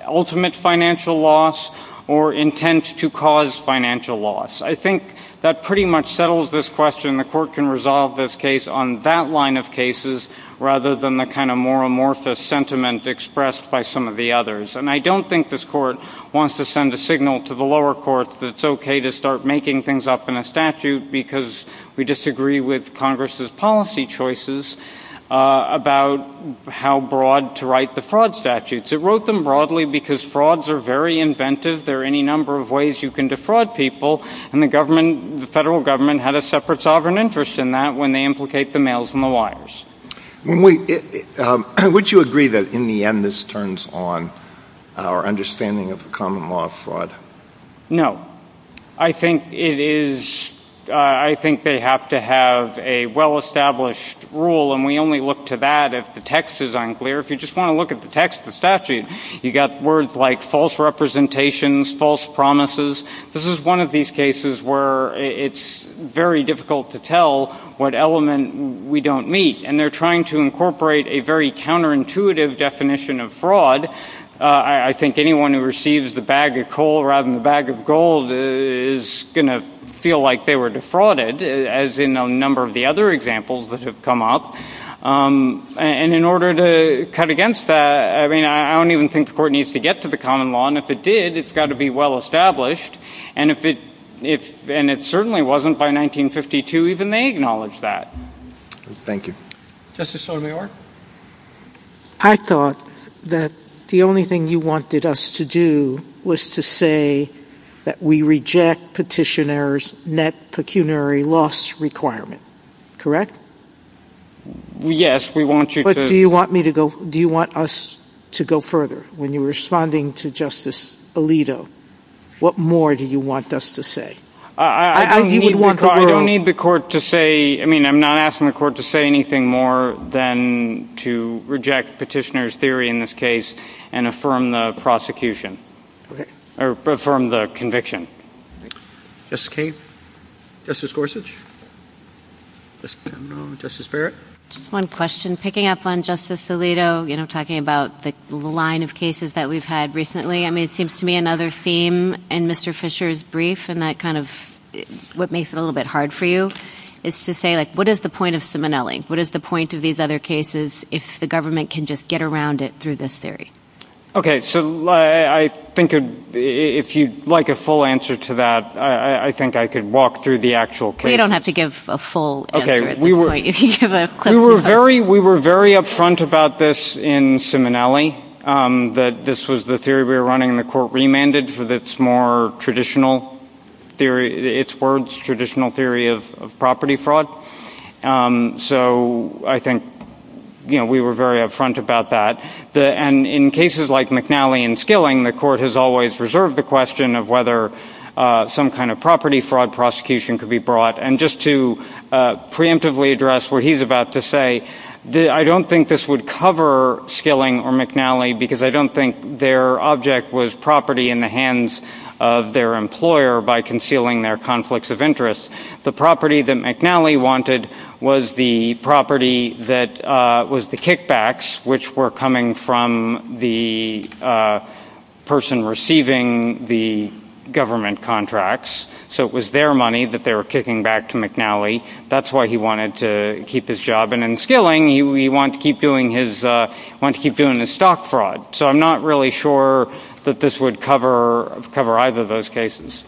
ultimate financial loss or intent to cause financial loss. I think that pretty much settles this question. The court can resolve this case on that line of cases rather than the kind of more amorphous sentiment expressed by some of the others. And I don't think this court wants to send a signal to the lower court that it's okay to start making things up in a statute because we disagree with Congress's policy choices about how broad to write the fraud statutes. It wrote them broadly because frauds are very inventive. There are any number of ways you can defraud people, and the federal government had a separate sovereign interest in that when they implicate the males and the liars. Would you agree that in the end this turns on our understanding of the common law of fraud? No. I think they have to have a well-established rule, and we only look to that if the text is unclear. If you just want to look at the text of the statute, you've got words like false representations, false promises. This is one of these cases where it's very difficult to tell what element we don't meet, and they're trying to incorporate a very counterintuitive definition of fraud. I think anyone who receives the bag of coal rather than the bag of gold is going to feel like they were defrauded, as in a number of the other examples that have come up. And in order to cut against that, I mean, I don't even think the court needs to get to the common law, and if it did, it's got to be well-established, and it certainly wasn't. By 1952, even they acknowledged that. Thank you. Justice Sotomayor? I thought that the only thing you wanted us to do was to say that we reject petitioners' net pecuniary loss requirement. Correct? Yes, we want you to... But do you want us to go further? When you're responding to Justice Alito, what more do you want us to say? I don't need the court to say... I mean, I'm not asking the court to say anything more than to reject petitioners' theory in this case and affirm the prosecution, or affirm the conviction. Justice Kagan? Justice Gorsuch? Justice Barrett? Just one question. Picking up on Justice Alito, you know, talking about the line of cases that we've had recently, I mean, it seems to me another theme in Mr. Fisher's brief, and that kind of what makes it a little bit hard for you, is to say, like, what is the point of Simonelli? What is the point of these other cases if the government can just get around it through this theory? Okay, so I think if you'd like a full answer to that, I think I could walk through the actual case. You don't have to give a full answer at this point. We were very up front about this in Simonelli, that this was the theory we were running, and the court remanded for its more traditional theory, its words, traditional theory of property fraud. So I think, you know, we were very up front about that. And in cases like McNally and Skilling, the court has always reserved the question of whether some kind of property fraud prosecution could be brought. And just to preemptively address what he's about to say, I don't think this would cover Skilling or McNally, because I don't think their object was property in the hands of their employer by concealing their conflicts of interest. The property that McNally wanted was the property that was the kickbacks, which were coming from the person receiving the government contracts. So it was their money that they were kicking back to McNally. That's why he wanted to keep his job. And in Skilling, he wanted to keep doing his stock fraud. So I'm not really sure that this would cover either of those cases.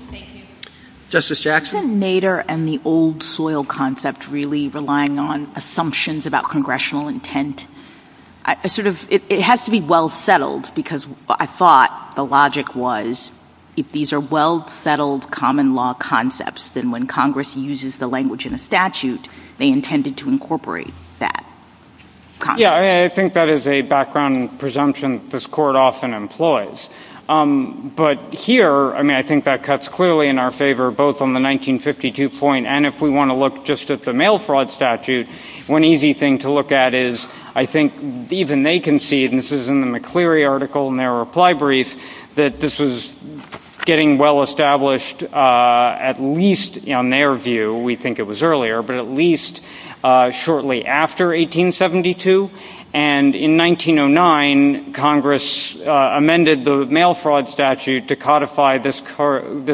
Justice Jackson? Isn't Nader and the old soil concept really relying on assumptions about congressional intent? It has to be well settled, because I thought the logic was if these are well settled common law concepts, then when Congress uses the language in a statute, they intended to incorporate that concept. Yeah, I think that is a background presumption this court often employs. But here, I mean, I think that cuts clearly in our favor, both on the 1952 point, and if we want to look just at the mail fraud statute, one easy thing to look at is, I think even they concede, and this is in the McCleary article in their reply brief, that this is getting well established, at least on their view, we think it was earlier, but at least shortly after 1872. And in 1909, Congress amended the mail fraud statute to codify this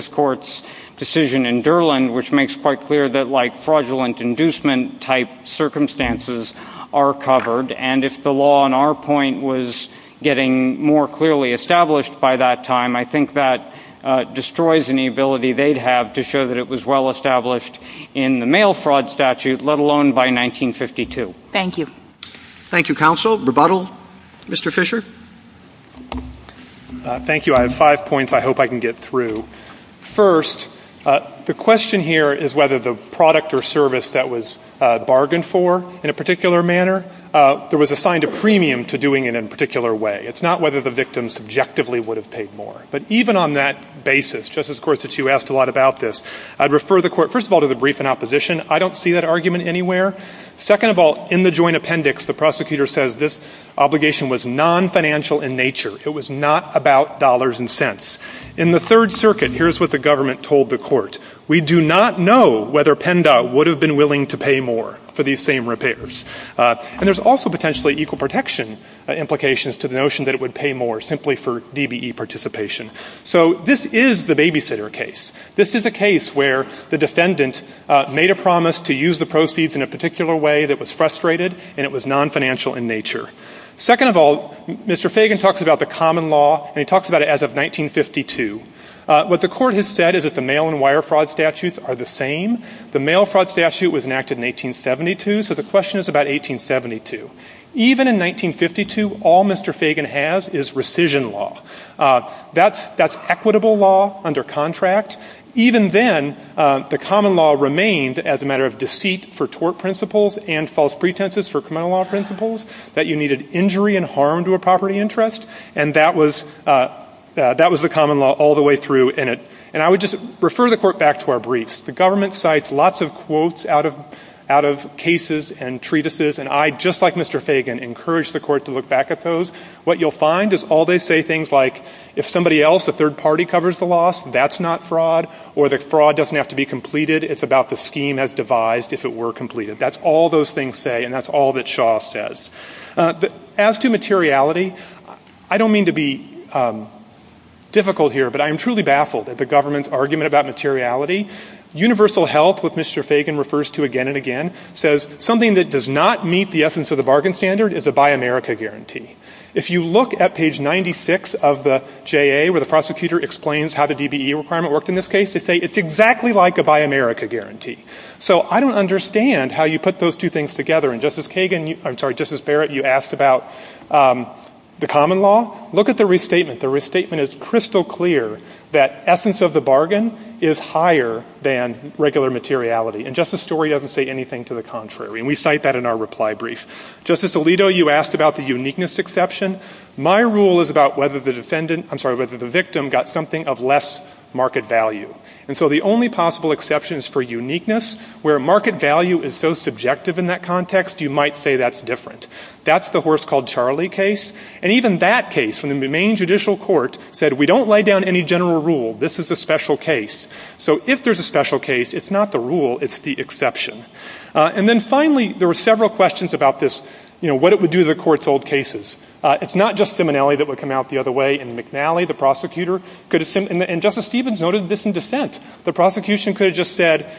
court's decision in Durland, which makes quite clear that fraudulent inducement type circumstances are covered. And if the law, on our point, was getting more clearly established by that time, I think that destroys any ability they'd have to show that it was well established in the mail fraud statute, let alone by 1952. Thank you. Thank you, counsel. Rebuttal, Mr. Fisher? Thank you. I have five points I hope I can get through. First, the question here is whether the product or service that was bargained for in a particular manner, there was assigned a premium to doing it in a particular way. It's not whether the victim subjectively would have paid more. But even on that basis, Justice Gorsuch, you asked a lot about this. I'd refer the Court, first of all, to the brief in opposition. I don't see that argument anywhere. Second of all, in the joint appendix, the prosecutor says this obligation was non-financial in nature. It was not about dollars and cents. In the Third Circuit, here's what the government told the Court. We do not know whether PENDA would have been willing to pay more for these same repairs. And there's also potentially equal protection implications to the notion that it would pay more simply for DBE participation. So this is the babysitter case. This is the case where the defendant made a promise to use the proceeds in a particular way that was frustrated, and it was non-financial in nature. Second of all, Mr. Fagan talks about the common law, and he talks about it as of 1952. What the Court has said is that the mail and wire fraud statutes are the same. The mail fraud statute was enacted in 1872, so the question is about 1872. Even in 1952, all Mr. Fagan has is rescission law. That's equitable law under contract. Even then, the common law remained as a matter of deceit for tort principles and false pretenses for criminal law principles, that you needed injury and harm to a property interest, and that was the common law all the way through in it. And I would just refer the Court back to our briefs. The government cites lots of quotes out of cases and treatises, and I, just like Mr. Fagan, encourage the Court to look back at those. What you'll find is all they say things like, if somebody else, a third party, covers the loss, that's not fraud, or the fraud doesn't have to be completed, it's about the scheme as devised if it were completed. That's all those things say, and that's all that Shaw says. As to materiality, I don't mean to be difficult here, but I am truly baffled at the government's argument about materiality. Universal Health, which Mr. Fagan refers to again and again, says something that does not meet the essence of the bargain standard is a Buy America guarantee. If you look at page 96 of the JA, where the prosecutor explains how the DBE requirement worked in this case, they say it's exactly like a Buy America guarantee. So I don't understand how you put those two things together, and Justice Kagan, I'm sorry, Justice Barrett, you asked about the common law. Look at the restatement. The restatement is crystal clear that essence of the bargain is higher than regular materiality, and Justice Story doesn't say anything to the contrary, and we cite that in our reply brief. Justice Alito, you asked about the uniqueness exception. My rule is about whether the victim got something of less market value. And so the only possible exception is for uniqueness, where market value is so subjective in that context, you might say that's different. That's the Horse Called Charlie case, and even that case, in the Maine Judicial Court, said we don't lay down any general rule, this is a special case. So if there's a special case, it's not the rule, it's the exception. And then finally, there were several questions about this, you know, what it would do to the court's old cases. It's not just Simonelli that would come out the other way, and McNally, the prosecutor, and Justice Stevens noted this in dissent. The prosecution could have just said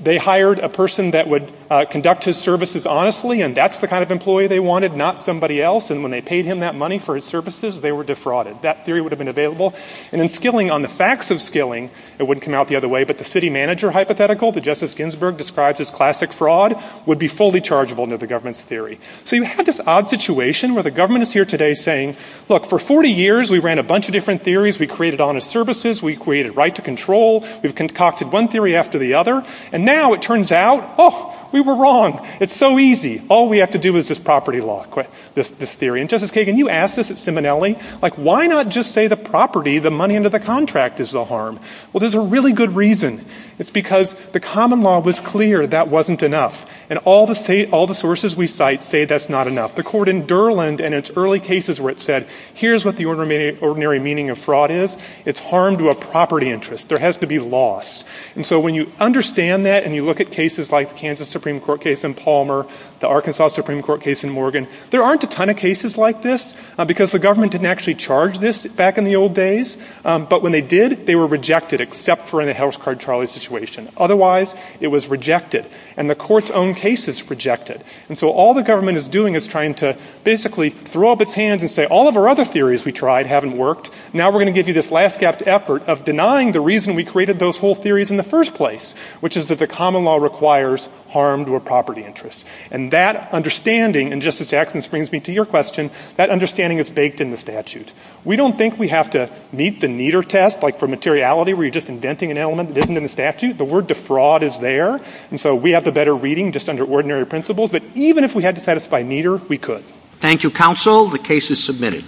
they hired a person that would conduct his services honestly, and that's the kind of employee they wanted, not somebody else, and when they paid him that money for his services, they were defrauded. That theory would have been available. And then skilling on the facts of skilling, it wouldn't come out the other way, but the city manager hypothetical that Justice Ginsburg describes as classic fraud would be fully chargeable under the government's theory. So you have this odd situation where the government is here today saying, look, for 40 years we ran a bunch of different theories. We created honest services. We created right to control. We've concocted one theory after the other, and now it turns out, oh, we were wrong. It's so easy. All we have to do is this property law, this theory. And Justice Kagan, you asked this at Seminelli. Like, why not just say the property, the money under the contract is the harm? Well, there's a really good reason. It's because the common law was clear that wasn't enough, and all the sources we cite say that's not enough. The court in Durland in its early cases where it said, here's what the ordinary meaning of fraud is, it's harm to a property interest. There has to be loss. And so when you understand that and you look at cases like the Kansas Supreme Court case in Palmer, the Arkansas Supreme Court case in Morgan, there aren't a ton of cases like this because the government didn't actually charge this back in the old days. But when they did, they were rejected except for in the house card trial situation. Otherwise, it was rejected. And the court's own case is rejected. And so all the government is doing is trying to basically throw up its hands and say, all of our other theories we tried haven't worked. Now we're going to give you this last-gap effort of denying the reason we created those whole theories in the first place, which is that the common law requires harm to a property interest. And that understanding, and, Justice Jackson, this brings me to your question, that understanding is baked in the statute. We don't think we have to meet the meter test like for materiality where you're just inventing an element that isn't in the statute. The word defraud is there. And so we have the better reading just under ordinary principles. But even if we had to satisfy meter, we could. Thank you, counsel. The case is submitted.